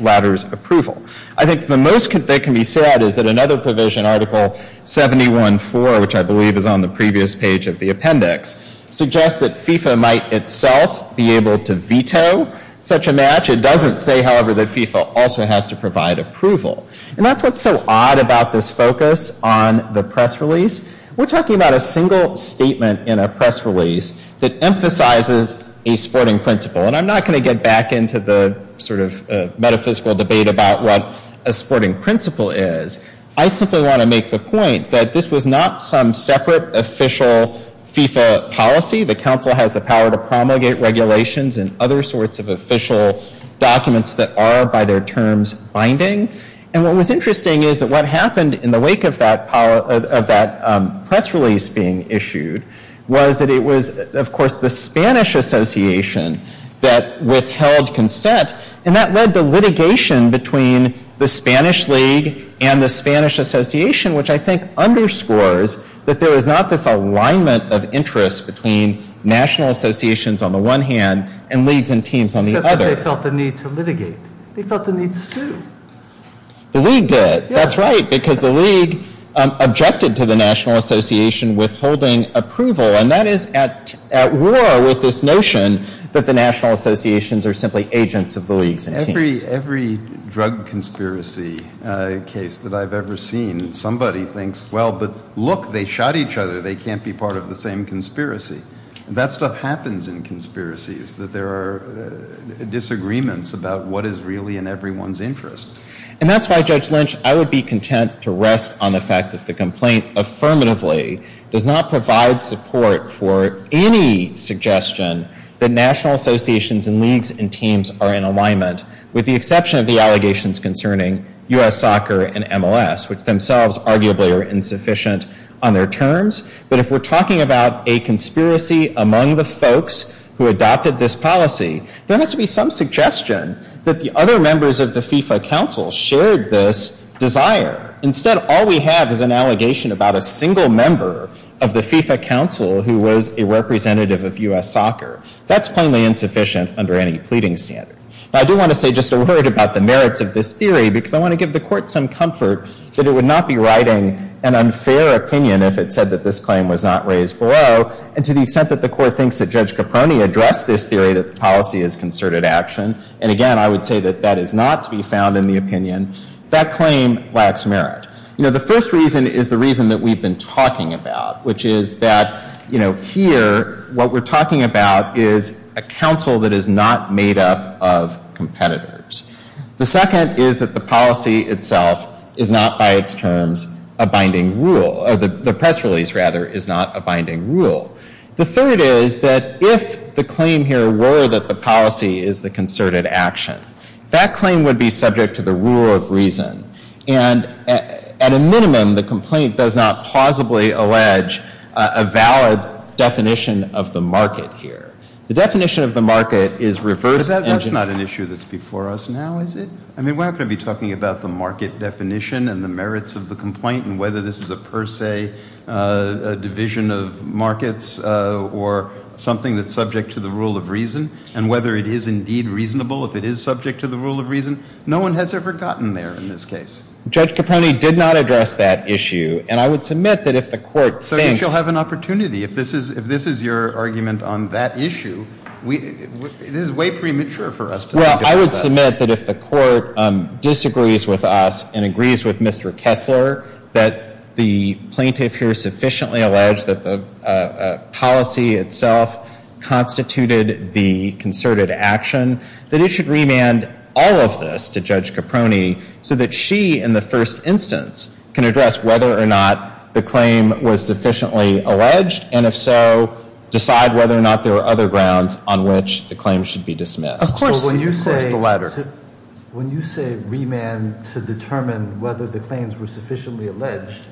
latter's approval. I think the most that can be said is that another provision, Article 71.4, which I believe is on the previous page of the appendix, suggests that FIFA might itself be able to veto such a match. It doesn't say, however, that FIFA also has to provide approval. And that's what's so odd about this focus on the press release. We're talking about a single statement in a press release that emphasizes a sporting principle. And I'm not going to get back into the sort of metaphysical debate about what a sporting principle is. I simply want to make the point that this was not some separate official FIFA policy. The council has the power to promulgate regulations and other sorts of official documents that are, by their terms, binding. And what was interesting is that what happened in the wake of that press release being issued was that it was, of course, the Spanish Association that withheld consent. And that led to litigation between the Spanish League and the Spanish Association, which I think underscores that there is not this alignment of interest between national associations on the one hand and leagues and teams on the other. Except that they felt the need to litigate. They felt the need to sue. The League did. That's right. Because the League objected to the National Association withholding approval. And that is at war with this notion that the national associations are simply agents of the leagues and teams. Every drug conspiracy case that I've ever seen, somebody thinks, well, but look, they shot each other. They can't be part of the same conspiracy. That stuff happens in conspiracies, that there are disagreements about what is really in everyone's interest. And that's why, Judge Lynch, I would be content to rest on the fact that the complaint affirmatively does not provide support for any suggestion that national associations and leagues and teams are in alignment, with the exception of the allegations concerning U.S. Soccer and MLS, which themselves arguably are insufficient on their terms. But if we're talking about a conspiracy among the folks who adopted this policy, there has to be some suggestion that the other members of the FIFA Council shared this desire. Instead, all we have is an allegation about a single member of the FIFA Council who was a representative of U.S. Soccer. That's plainly insufficient under any pleading standard. But I do want to say just a word about the merits of this theory, because I want to give the Court some comfort that it would not be writing an unfair opinion if it said that this claim was not raised below. And to the extent that the Court thinks that Judge Caproni addressed this theory that the policy is concerted action, and again, I would say that that is not to be found in the opinion, that claim lacks merit. You know, the first reason is the reason that we've been talking about, which is that, you know, here, what we're talking about is a council that is not made up of competitors. The second is that the policy itself is not, by its terms, a binding rule. The press release, rather, is not a binding rule. The third is that if the claim here were that the policy is the concerted action, that claim would be subject to the rule of reason. And at a minimum, the complaint does not plausibly allege a valid definition of the market here. The definition of the market is reversed. But that's not an issue that's before us now, is it? I mean, we're not going to be talking about the market definition and the merits of the complaint and whether this is a per se division of markets or something that's subject to the rule of reason, and whether it is indeed reasonable if it is subject to the rule of reason. No one has ever gotten there in this case. Judge Caproni did not address that issue, and I would submit that if the Court thinks... It is way premature for us to think about that. Well, I would submit that if the Court disagrees with us and agrees with Mr. Kessler that the plaintiff here sufficiently alleged that the policy itself constituted the concerted action, that it should remand all of this to Judge Caproni so that she, in the first instance, can address whether or not the claim was sufficiently alleged, and if so, decide whether or not there are other grounds on which the claim should be dismissed. Of course the latter. When you say remand to determine whether the claims were sufficiently alleged,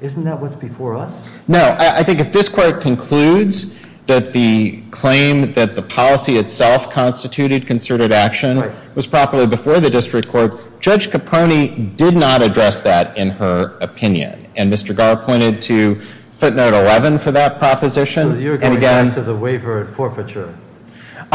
isn't that what's before us? No. I think if this Court concludes that the claim that the policy itself constituted concerted action was properly before the district court, Judge Caproni did not address that in her opinion. And Mr. Garr pointed to footnote 11 for that proposition. So you're going back to the waiver and forfeiture?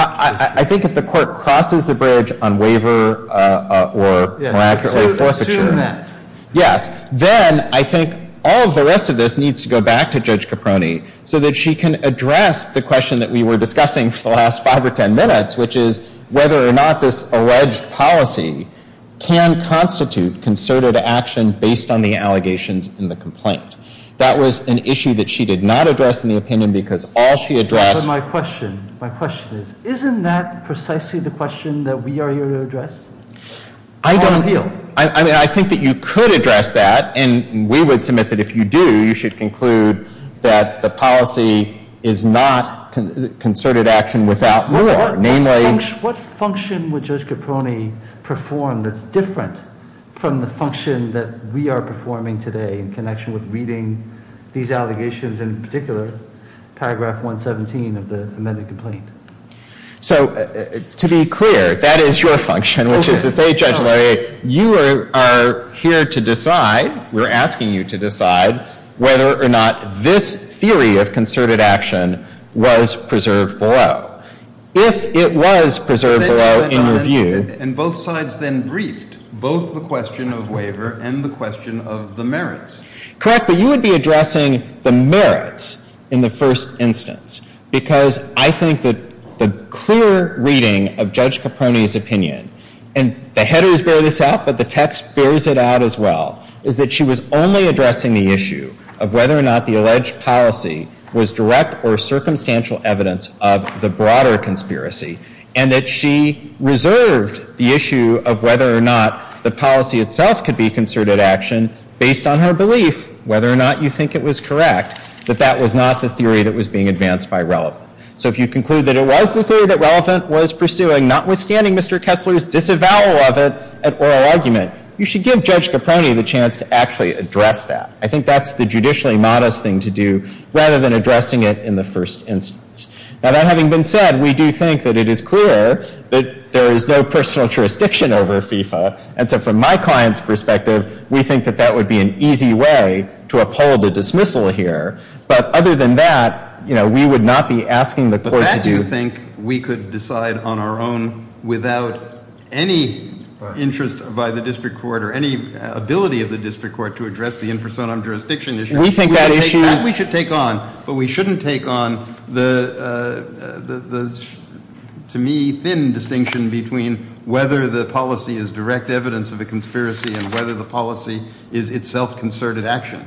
I think if the Court crosses the bridge on waiver or, more accurately, forfeiture... Assume that. Yes. Then I think all of the rest of this needs to go back to Judge Caproni so that she can address the question that we were discussing for the last five or ten minutes, which is whether or not this alleged policy can constitute concerted action based on the allegations in the complaint. That was an issue that she did not address in the opinion because all she addressed... But my question, my question is, isn't that precisely the question that we are here to address? I don't... I don't feel. I mean, I think that you could address that, and we would submit that if you do, you should conclude that the policy is not concerted action without more, namely... What function would Judge Caproni perform that's different from the function that we are performing today in connection with reading these allegations, in particular, paragraph 117 of the amended complaint? So, to be clear, that is your function, which is to say, Judge Laurier, you are here to decide, we're asking you to decide whether or not this theory of concerted action was preserved below. If it was preserved below in your view... And both sides then briefed both the question of waiver and the question of the merits. Correct, but you would be addressing the merits in the first instance because I think that the clear reading of Judge Caproni's opinion, and the headers bear this out, but the text bears it out as well, is that she was only addressing the issue of whether or not the alleged policy was direct or circumstantial evidence of the broader conspiracy, and that she reserved the issue of whether or not the policy itself could be concerted action based on her belief, whether or not you think it was correct, that that was not the theory that was being advanced by Relevant. So, if you conclude that it was the theory that Relevant was pursuing, notwithstanding Mr. Kessler's disavowal of it at oral argument, you should give Judge Caproni the chance to actually address that. I think that's the judicially modest thing to do rather than addressing it in the first instance. Now, that having been said, we do think that it is clear that there is no personal jurisdiction over FIFA, and so from my client's perspective, we think that that would be an easy way to uphold a dismissal here, but other than that, you know, we would not be asking the court to do – But that, do you think, we could decide on our own without any interest by the district court or any ability of the district court to address the infrasound jurisdiction issue? We think that issue – That we should take on. But we shouldn't take on the, to me, thin distinction between whether the policy is direct evidence of a conspiracy and whether the policy is itself concerted action.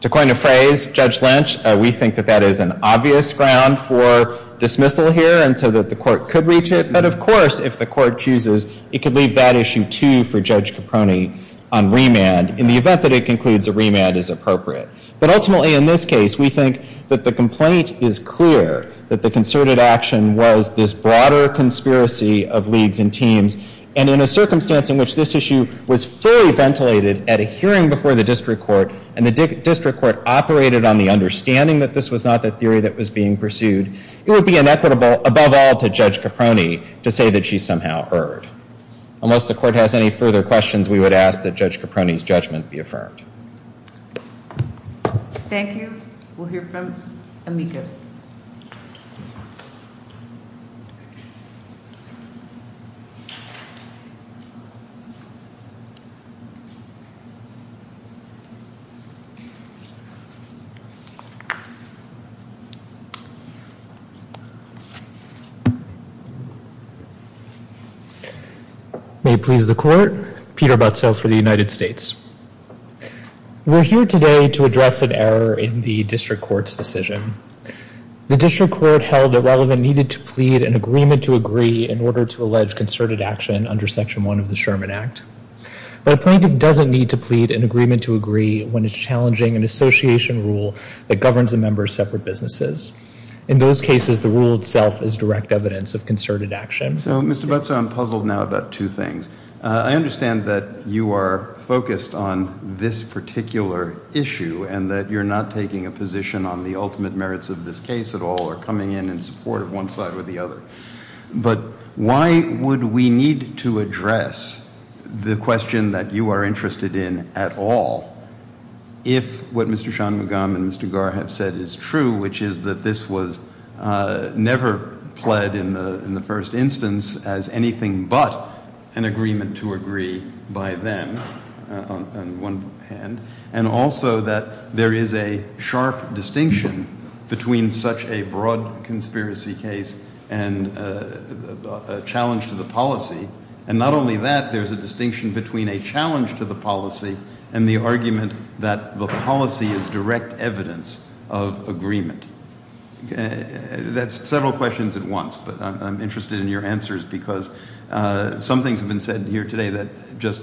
To coin a phrase, Judge Lynch, we think that that is an obvious ground for dismissal here and so that the court could reach it, but of course, if the court chooses, it could leave that issue too for Judge Caproni on remand in the event that it concludes a remand is appropriate. But ultimately, in this case, we think that the complaint is clear that the concerted action was this broader conspiracy of leagues and teams, and in a circumstance in which this issue was fully ventilated at a hearing before the district court and the district court operated on the understanding that this was not the theory that was being pursued, it would be inequitable, above all, to Judge Caproni to say that she somehow erred. Unless the court has any further questions, we would ask that Judge Caproni's judgment be affirmed. Thank you. We'll hear from Amicus. May it please the court, Peter Butzfeld for the United States. We're here today to address an error in the district court's decision. The district court held that Relevant needed to plead an agreement to agree in order to allege concerted action under Section 1 of the Sherman Act. But a plaintiff doesn't need to plead an agreement to agree when it's challenging an association rule that governs a member's separate businesses. In those cases, the rule itself is direct evidence of concerted action. So, Mr. Butzfeld, I'm puzzled now about two things. I understand that you are focused on this particular issue and that you're not taking a position on the ultimate merits of this case at all or coming in in support of one side or the other. But why would we need to address the question that you are interested in at all if what Mr. Shanmugam and Mr. Garr have said is true, which is that this was never pled in the first instance as anything but an agreement to agree by them on one hand, and also that there is a sharp distinction between such a broad conspiracy case and a challenge to the policy. And not only that, there's a distinction between a challenge to the policy and the argument that the policy is direct evidence of agreement. That's several questions at once, but I'm interested in your answers because some things have been said here today that just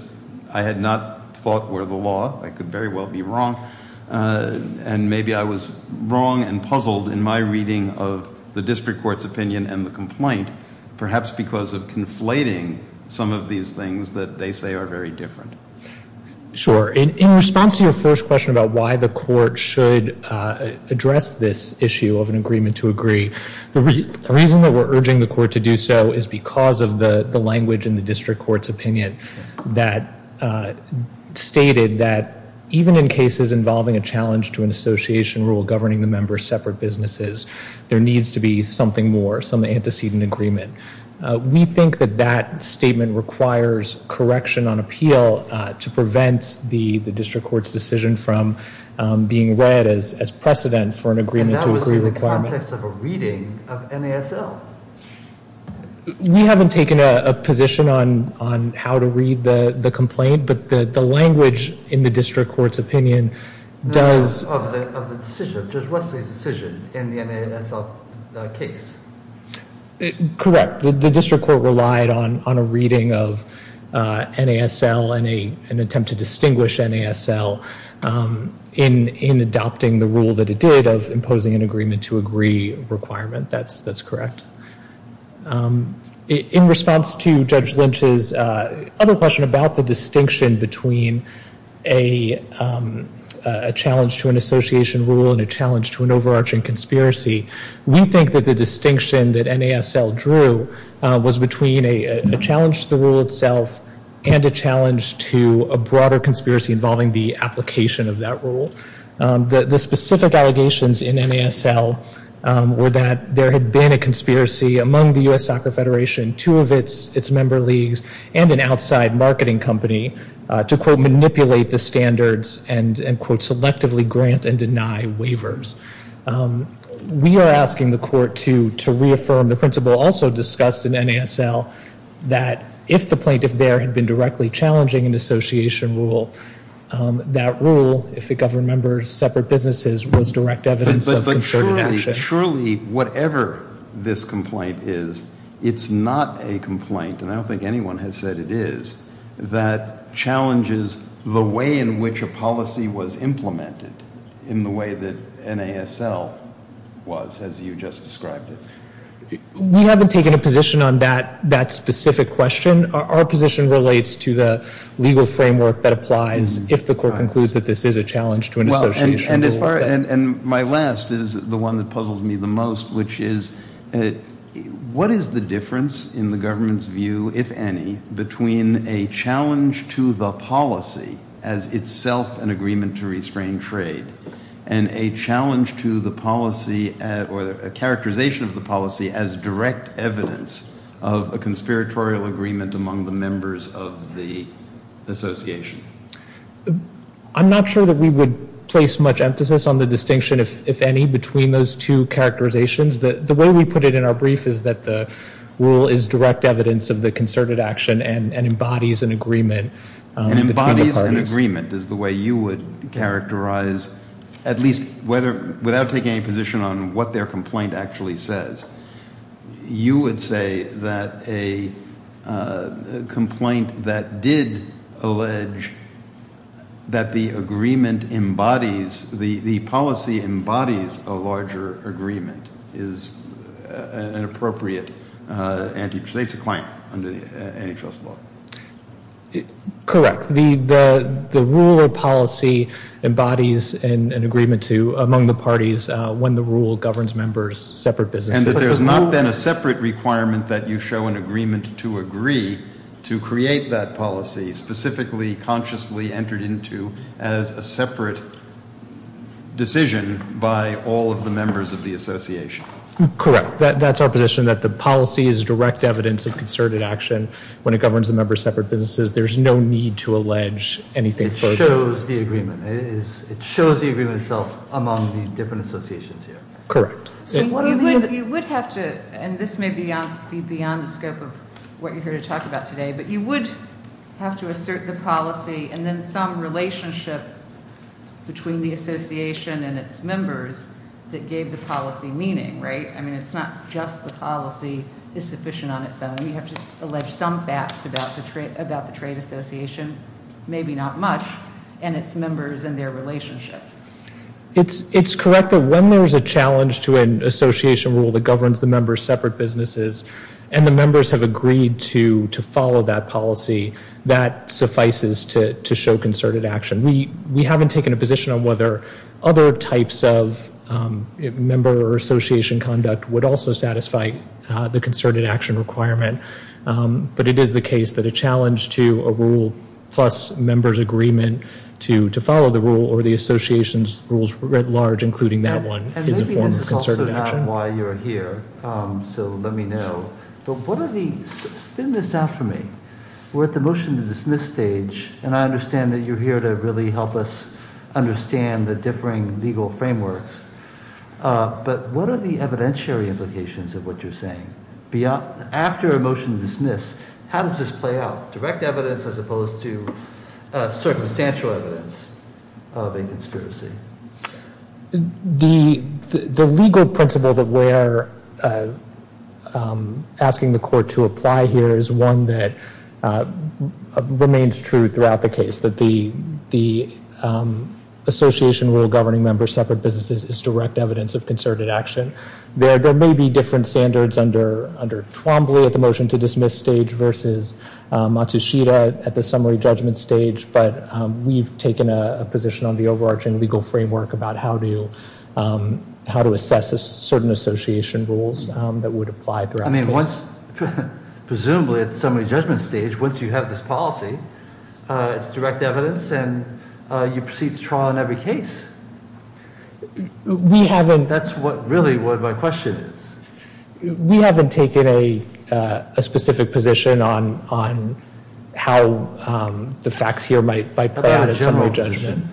I had not thought were the law. I could very well be wrong. And maybe I was wrong and puzzled in my reading of the district court's opinion and the complaint, perhaps because of conflating some of these things that they say are very different. Sure. In response to your first question about why the court should address this issue of an agreement to agree, the reason that we're urging the court to do so is because of the language in the district court's opinion that stated that even in cases involving a challenge to an association rule governing the member's separate businesses, there needs to be something more, some antecedent agreement. We think that that statement requires correction on appeal to prevent the district court's decision from being read as precedent for an agreement to agree requirement. And that was in the context of a reading of NASL. We haven't taken a position on how to read the complaint, but the language in the district court's opinion does. Of the decision, Judge Wesley's decision in the NASL case. Correct. The district court relied on a reading of NASL and an attempt to distinguish NASL in adopting the rule that it did of imposing an agreement to agree requirement. That's correct. In response to Judge Lynch's other question about the distinction between a challenge to an association rule and a challenge to an overarching conspiracy, we think that the distinction that NASL drew was between a challenge to the rule itself and a challenge to a broader conspiracy involving the application of that rule. The specific allegations in NASL were that there had been a conspiracy among the U.S. Soccer Federation, two of its member leagues, and an outside marketing company to, quote, manipulate the standards and, quote, selectively grant and deny waivers. We are asking the court to reaffirm the principle also discussed in NASL that if the plaintiff there had been directly challenging an association rule, that rule, if it governed members of separate businesses, was direct evidence of concerted action. But surely, whatever this complaint is, it's not a complaint, and I don't think anyone has said it is, that challenges the way in which a policy was implemented in the way that NASL was, as you just described it. We haven't taken a position on that specific question. Our position relates to the legal framework that applies if the court concludes that this is a challenge to an association rule. And my last is the one that puzzles me the most, which is what is the difference in the government's view, if any, between a challenge to the policy as itself an agreement to restrain trade and a challenge to the policy or a characterization of the policy as direct evidence of a conspiratorial agreement among the members of the association? I'm not sure that we would place much emphasis on the distinction, if any, between those two characterizations. The way we put it in our brief is that the rule is direct evidence of the concerted action and embodies an agreement. And embodies an agreement is the way you would characterize, at least without taking any position on what their complaint actually says, you would say that a complaint that did allege that the agreement embodies, the policy embodies a larger agreement is an appropriate, it's a claim under antitrust law. Correct. The rule or policy embodies an agreement among the parties when the rule governs members, separate businesses. And that there's not been a separate requirement that you show an agreement to agree to create that policy, specifically consciously entered into as a separate decision by all of the members of the association. Correct. That's our position, that the policy is direct evidence of concerted action when it governs the members' separate businesses. There's no need to allege anything further. It shows the agreement. It shows the agreement itself among the different associations here. Correct. You would have to, and this may be beyond the scope of what you're here to talk about today, but you would have to assert the policy and then some relationship between the association and its members that gave the policy meaning, right? I mean, it's not just the policy is sufficient on its own. You have to allege some facts about the trade association, maybe not much, and its members and their relationship. It's correct that when there's a challenge to an association rule that governs the members' separate businesses and the members have agreed to follow that policy, that suffices to show concerted action. We haven't taken a position on whether other types of member or association conduct would also satisfy the concerted action requirement, but it is the case that a challenge to a rule plus members' agreement to follow the rule or the association's rules writ large, including that one, is a form of concerted action. I understand why you're here, so let me know, but spin this out for me. We're at the motion to dismiss stage, and I understand that you're here to really help us understand the differing legal frameworks, but what are the evidentiary implications of what you're saying? After a motion to dismiss, how does this play out, direct evidence as opposed to circumstantial evidence of a conspiracy? The legal principle that we're asking the court to apply here is one that remains true throughout the case, that the association rule governing members' separate businesses is direct evidence of concerted action. There may be different standards under Twombly at the motion to dismiss stage versus Matsushita at the summary judgment stage, but we've taken a position on the overarching legal framework about how to assess certain association rules that would apply throughout the case. Presumably at the summary judgment stage, once you have this policy, it's direct evidence, and you proceed to trial in every case. That's really what my question is. We haven't taken a specific position on how the facts here might play out at summary judgment.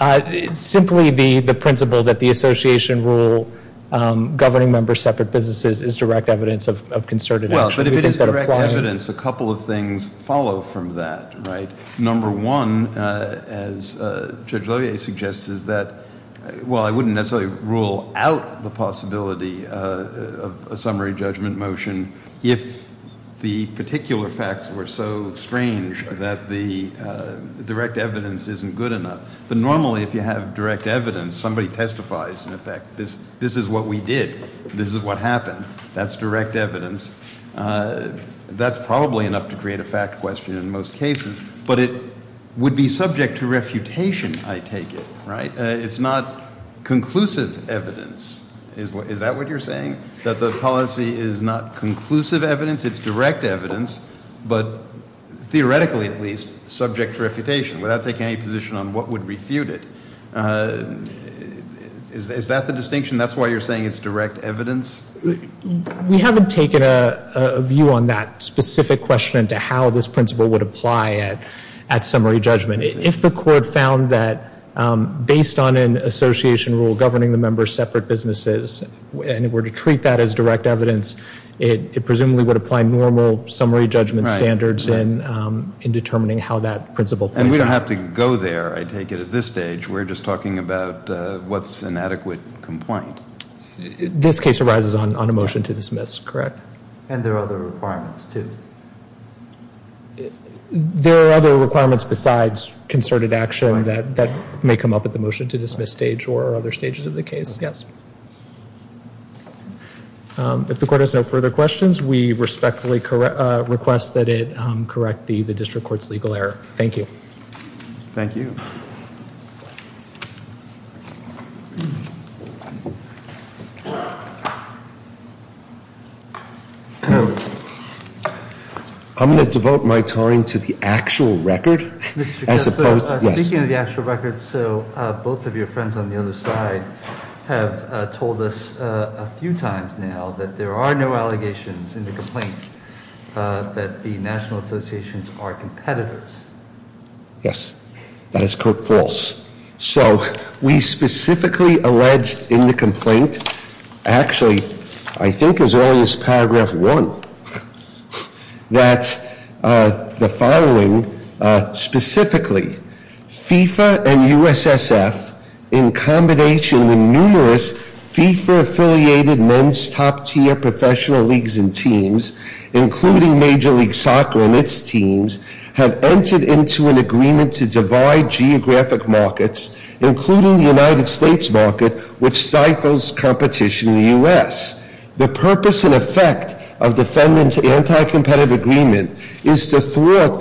It's simply the principle that the association rule governing members' separate businesses is direct evidence of concerted action. Well, but if it is direct evidence, a couple of things follow from that, right? Number one, as Judge Levier suggests, is that, well, I wouldn't necessarily rule out the possibility of a summary judgment motion if the particular facts were so strange that the direct evidence isn't good enough. But normally, if you have direct evidence, somebody testifies in effect. This is what we did. This is what happened. That's direct evidence. That's probably enough to create a fact question in most cases. But it would be subject to refutation, I take it, right? It's not conclusive evidence. Is that what you're saying? That the policy is not conclusive evidence, it's direct evidence, but theoretically, at least, subject to refutation without taking any position on what would refute it? Is that the distinction? That's why you're saying it's direct evidence? We haven't taken a view on that specific question into how this principle would apply at summary judgment. If the court found that, based on an association rule governing the members' separate businesses, and were to treat that as direct evidence, it presumably would apply normal summary judgment standards in determining how that principle plays out. And we don't have to go there, I take it, at this stage. We're just talking about what's an adequate complaint. This case arises on a motion to dismiss, correct? And there are other requirements, too. There are other requirements besides concerted action that may come up at the motion to dismiss stage or other stages of the case, yes. If the court has no further questions, we respectfully request that it correct the district court's legal error. Thank you. Thank you. I'm going to devote my time to the actual record. Speaking of the actual record, so both of your friends on the other side have told us a few times now that there are no allegations in the complaint, that the national associations are competitors. Yes, that is quote false. So, we specifically alleged in the complaint, actually, I think as early as paragraph one, that the following, specifically, FIFA and USSF, in combination with numerous FIFA affiliated men's top tier professional leagues and teams, including Major League Soccer and its teams, have entered into an agreement to divide geographic markets, including the United States market, which stifles competition in the US. The purpose and effect of defendants' anti-competitive agreement is to thwart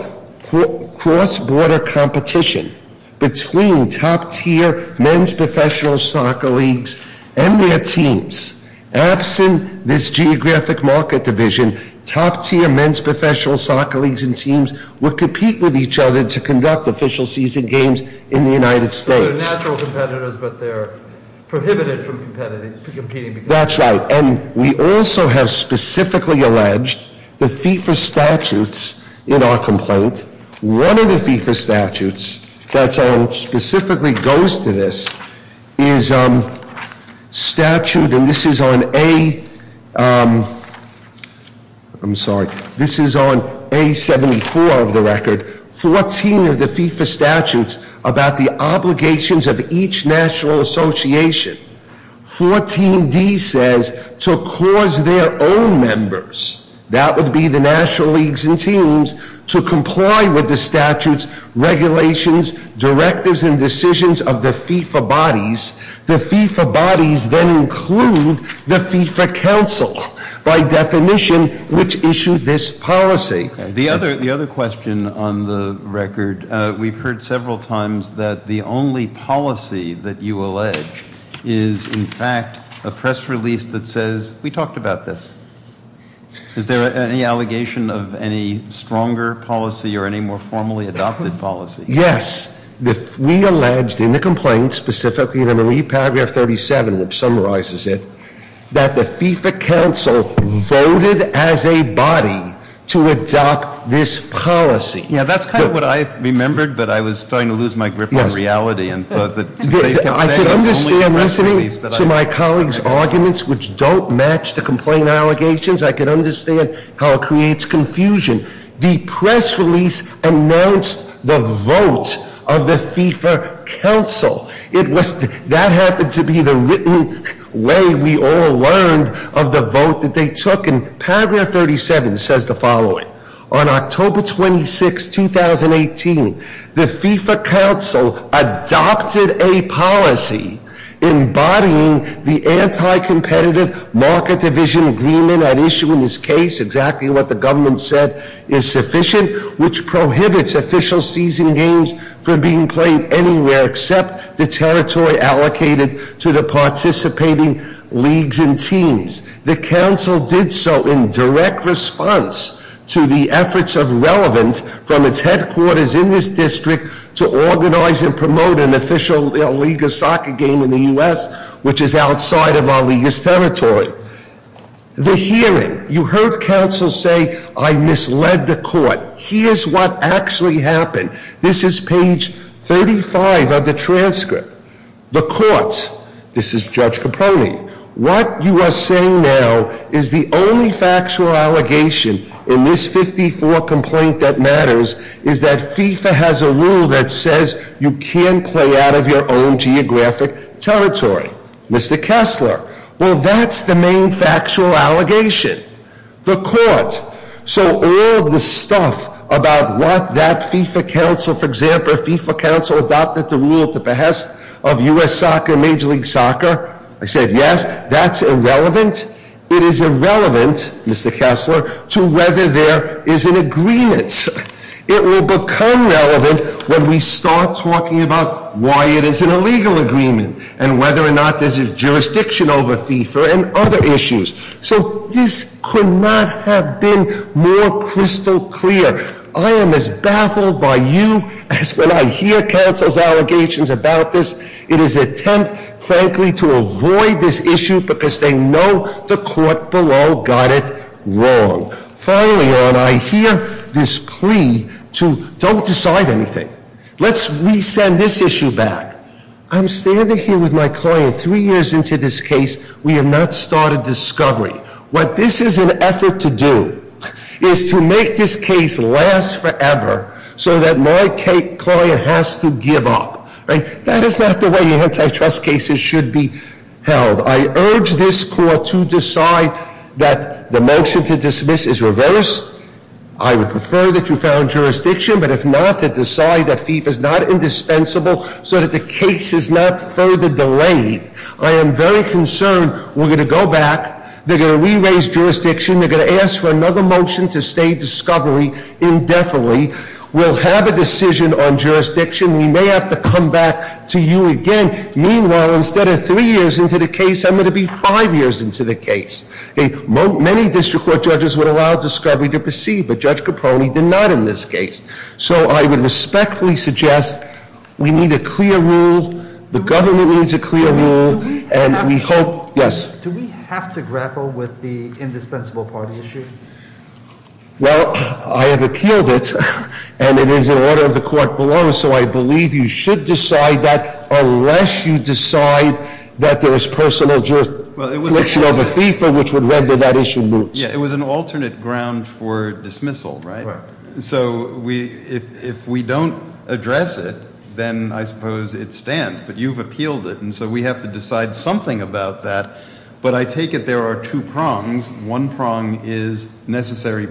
cross-border competition between top tier men's professional soccer leagues and their teams. Absent this geographic market division, top tier men's professional soccer leagues and teams would compete with each other to conduct official season games in the United States. They're natural competitors, but they're prohibited from competing. That's right, and we also have specifically alleged the FIFA statutes in our complaint. One of the FIFA statutes that specifically goes to this is statute, and this is on A, I'm sorry, this is on A74 of the record. 14 of the FIFA statutes about the obligations of each national association. 14D says, to cause their own members, that would be the national leagues and teams, to comply with the statutes, regulations, directives, and decisions of the FIFA bodies. The FIFA bodies then include the FIFA council, by definition, which issued this policy. The other question on the record, we've heard several times that the only policy that you allege is, in fact, a press release that says, we talked about this. Is there any allegation of any stronger policy or any more formally adopted policy? Yes, we alleged in the complaint, specifically in paragraph 37, which summarizes it, that the FIFA council voted as a body to adopt this policy. Yeah, that's kind of what I remembered, but I was starting to lose my grip on reality. Yes. I could understand listening to my colleagues' arguments, which don't match the complaint allegations. I could understand how it creates confusion. The press release announced the vote of the FIFA council. That happened to be the written way we all learned of the vote that they took. And paragraph 37 says the following. On October 26, 2018, the FIFA council adopted a policy embodying the anti-competitive market division agreement at issue in this case, exactly what the government said is sufficient, which prohibits official season games from being played anywhere except the territory allocated to the participating leagues and teams. The council did so in direct response to the efforts of Relevant from its headquarters in this district to organize and promote an official league of soccer game in the US, which is outside of our league's territory. The hearing, you heard council say, I misled the court. Here's what actually happened. This is page 35 of the transcript. The court, this is Judge Capone. What you are saying now is the only factual allegation in this 54 complaint that matters is that FIFA has a rule that says you can't play out of your own geographic territory. Mr. Kessler, well, that's the main factual allegation, the court. So all the stuff about what that FIFA council, for example, FIFA council adopted the rule at the behest of US soccer, major league soccer. I said, yes, that's irrelevant. It is irrelevant, Mr. Kessler, to whether there is an agreement. It will become relevant when we start talking about why it is an illegal agreement and whether or not there's a jurisdiction over FIFA and other issues. So this could not have been more crystal clear. I am as baffled by you as when I hear council's allegations about this. It is an attempt, frankly, to avoid this issue because they know the court below got it wrong. Finally, I hear this plea to don't decide anything. Let's resend this issue back. I'm standing here with my client three years into this case. We have not started discovery. What this is an effort to do is to make this case last forever so that my client has to give up. That is not the way antitrust cases should be held. I urge this court to decide that the motion to dismiss is reversed. I would prefer that you found jurisdiction. But if not, to decide that FIFA is not indispensable so that the case is not further delayed. I am very concerned. We're going to go back. They're going to re-raise jurisdiction. They're going to ask for another motion to stay discovery indefinitely. We'll have a decision on jurisdiction. We may have to come back to you again. Meanwhile, instead of three years into the case, I'm going to be five years into the case. Many district court judges would allow discovery to proceed, but Judge Capone did not in this case. So I would respectfully suggest we need a clear rule. The government needs a clear rule. And we hope- Yes? Do we have to grapple with the indispensable party issue? Well, I have appealed it. And it is in order of the court below. So I believe you should decide that unless you decide that there is personal jurisdiction over FIFA, which would render that issue moot. Yeah, it was an alternate ground for dismissal, right? So if we don't address it, then I suppose it stands. But you've appealed it. And so we have to decide something about that. But I take it there are two prongs. One prong is necessary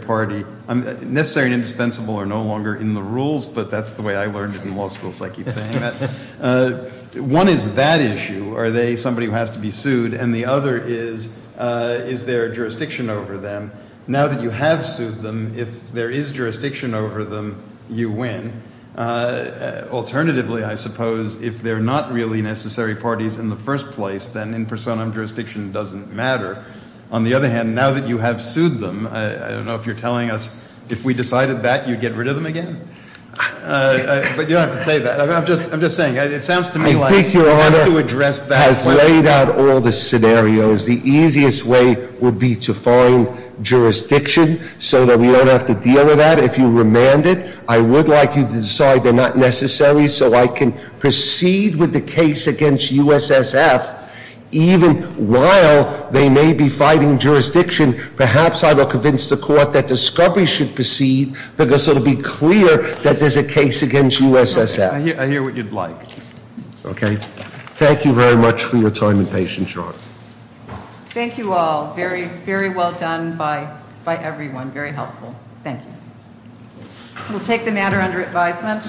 and indispensable are no longer in the rules. But that's the way I learned in law school, so I keep saying that. One is that issue. Are they somebody who has to be sued? And the other is, is there jurisdiction over them? Now that you have sued them, if there is jurisdiction over them, you win. Alternatively, I suppose, if they're not really necessary parties in the first place, then in personam jurisdiction doesn't matter. On the other hand, now that you have sued them, I don't know if you're telling us if we decided that you'd get rid of them again. But you don't have to say that. I'm just saying, it sounds to me like- I think Your Honor has laid out all the scenarios. The easiest way would be to find jurisdiction so that we don't have to deal with that. If you remand it, I would like you to decide they're not necessary so I can proceed with the case against USSF. Even while they may be fighting jurisdiction, perhaps I will convince the court that discovery should proceed. Because it'll be clear that there's a case against USSF. I hear what you'd like. Okay. Thank you very much for your time and patience, Your Honor. Thank you all. Very, very well done by everyone. Very helpful. Thank you. We'll take the matter under advisement.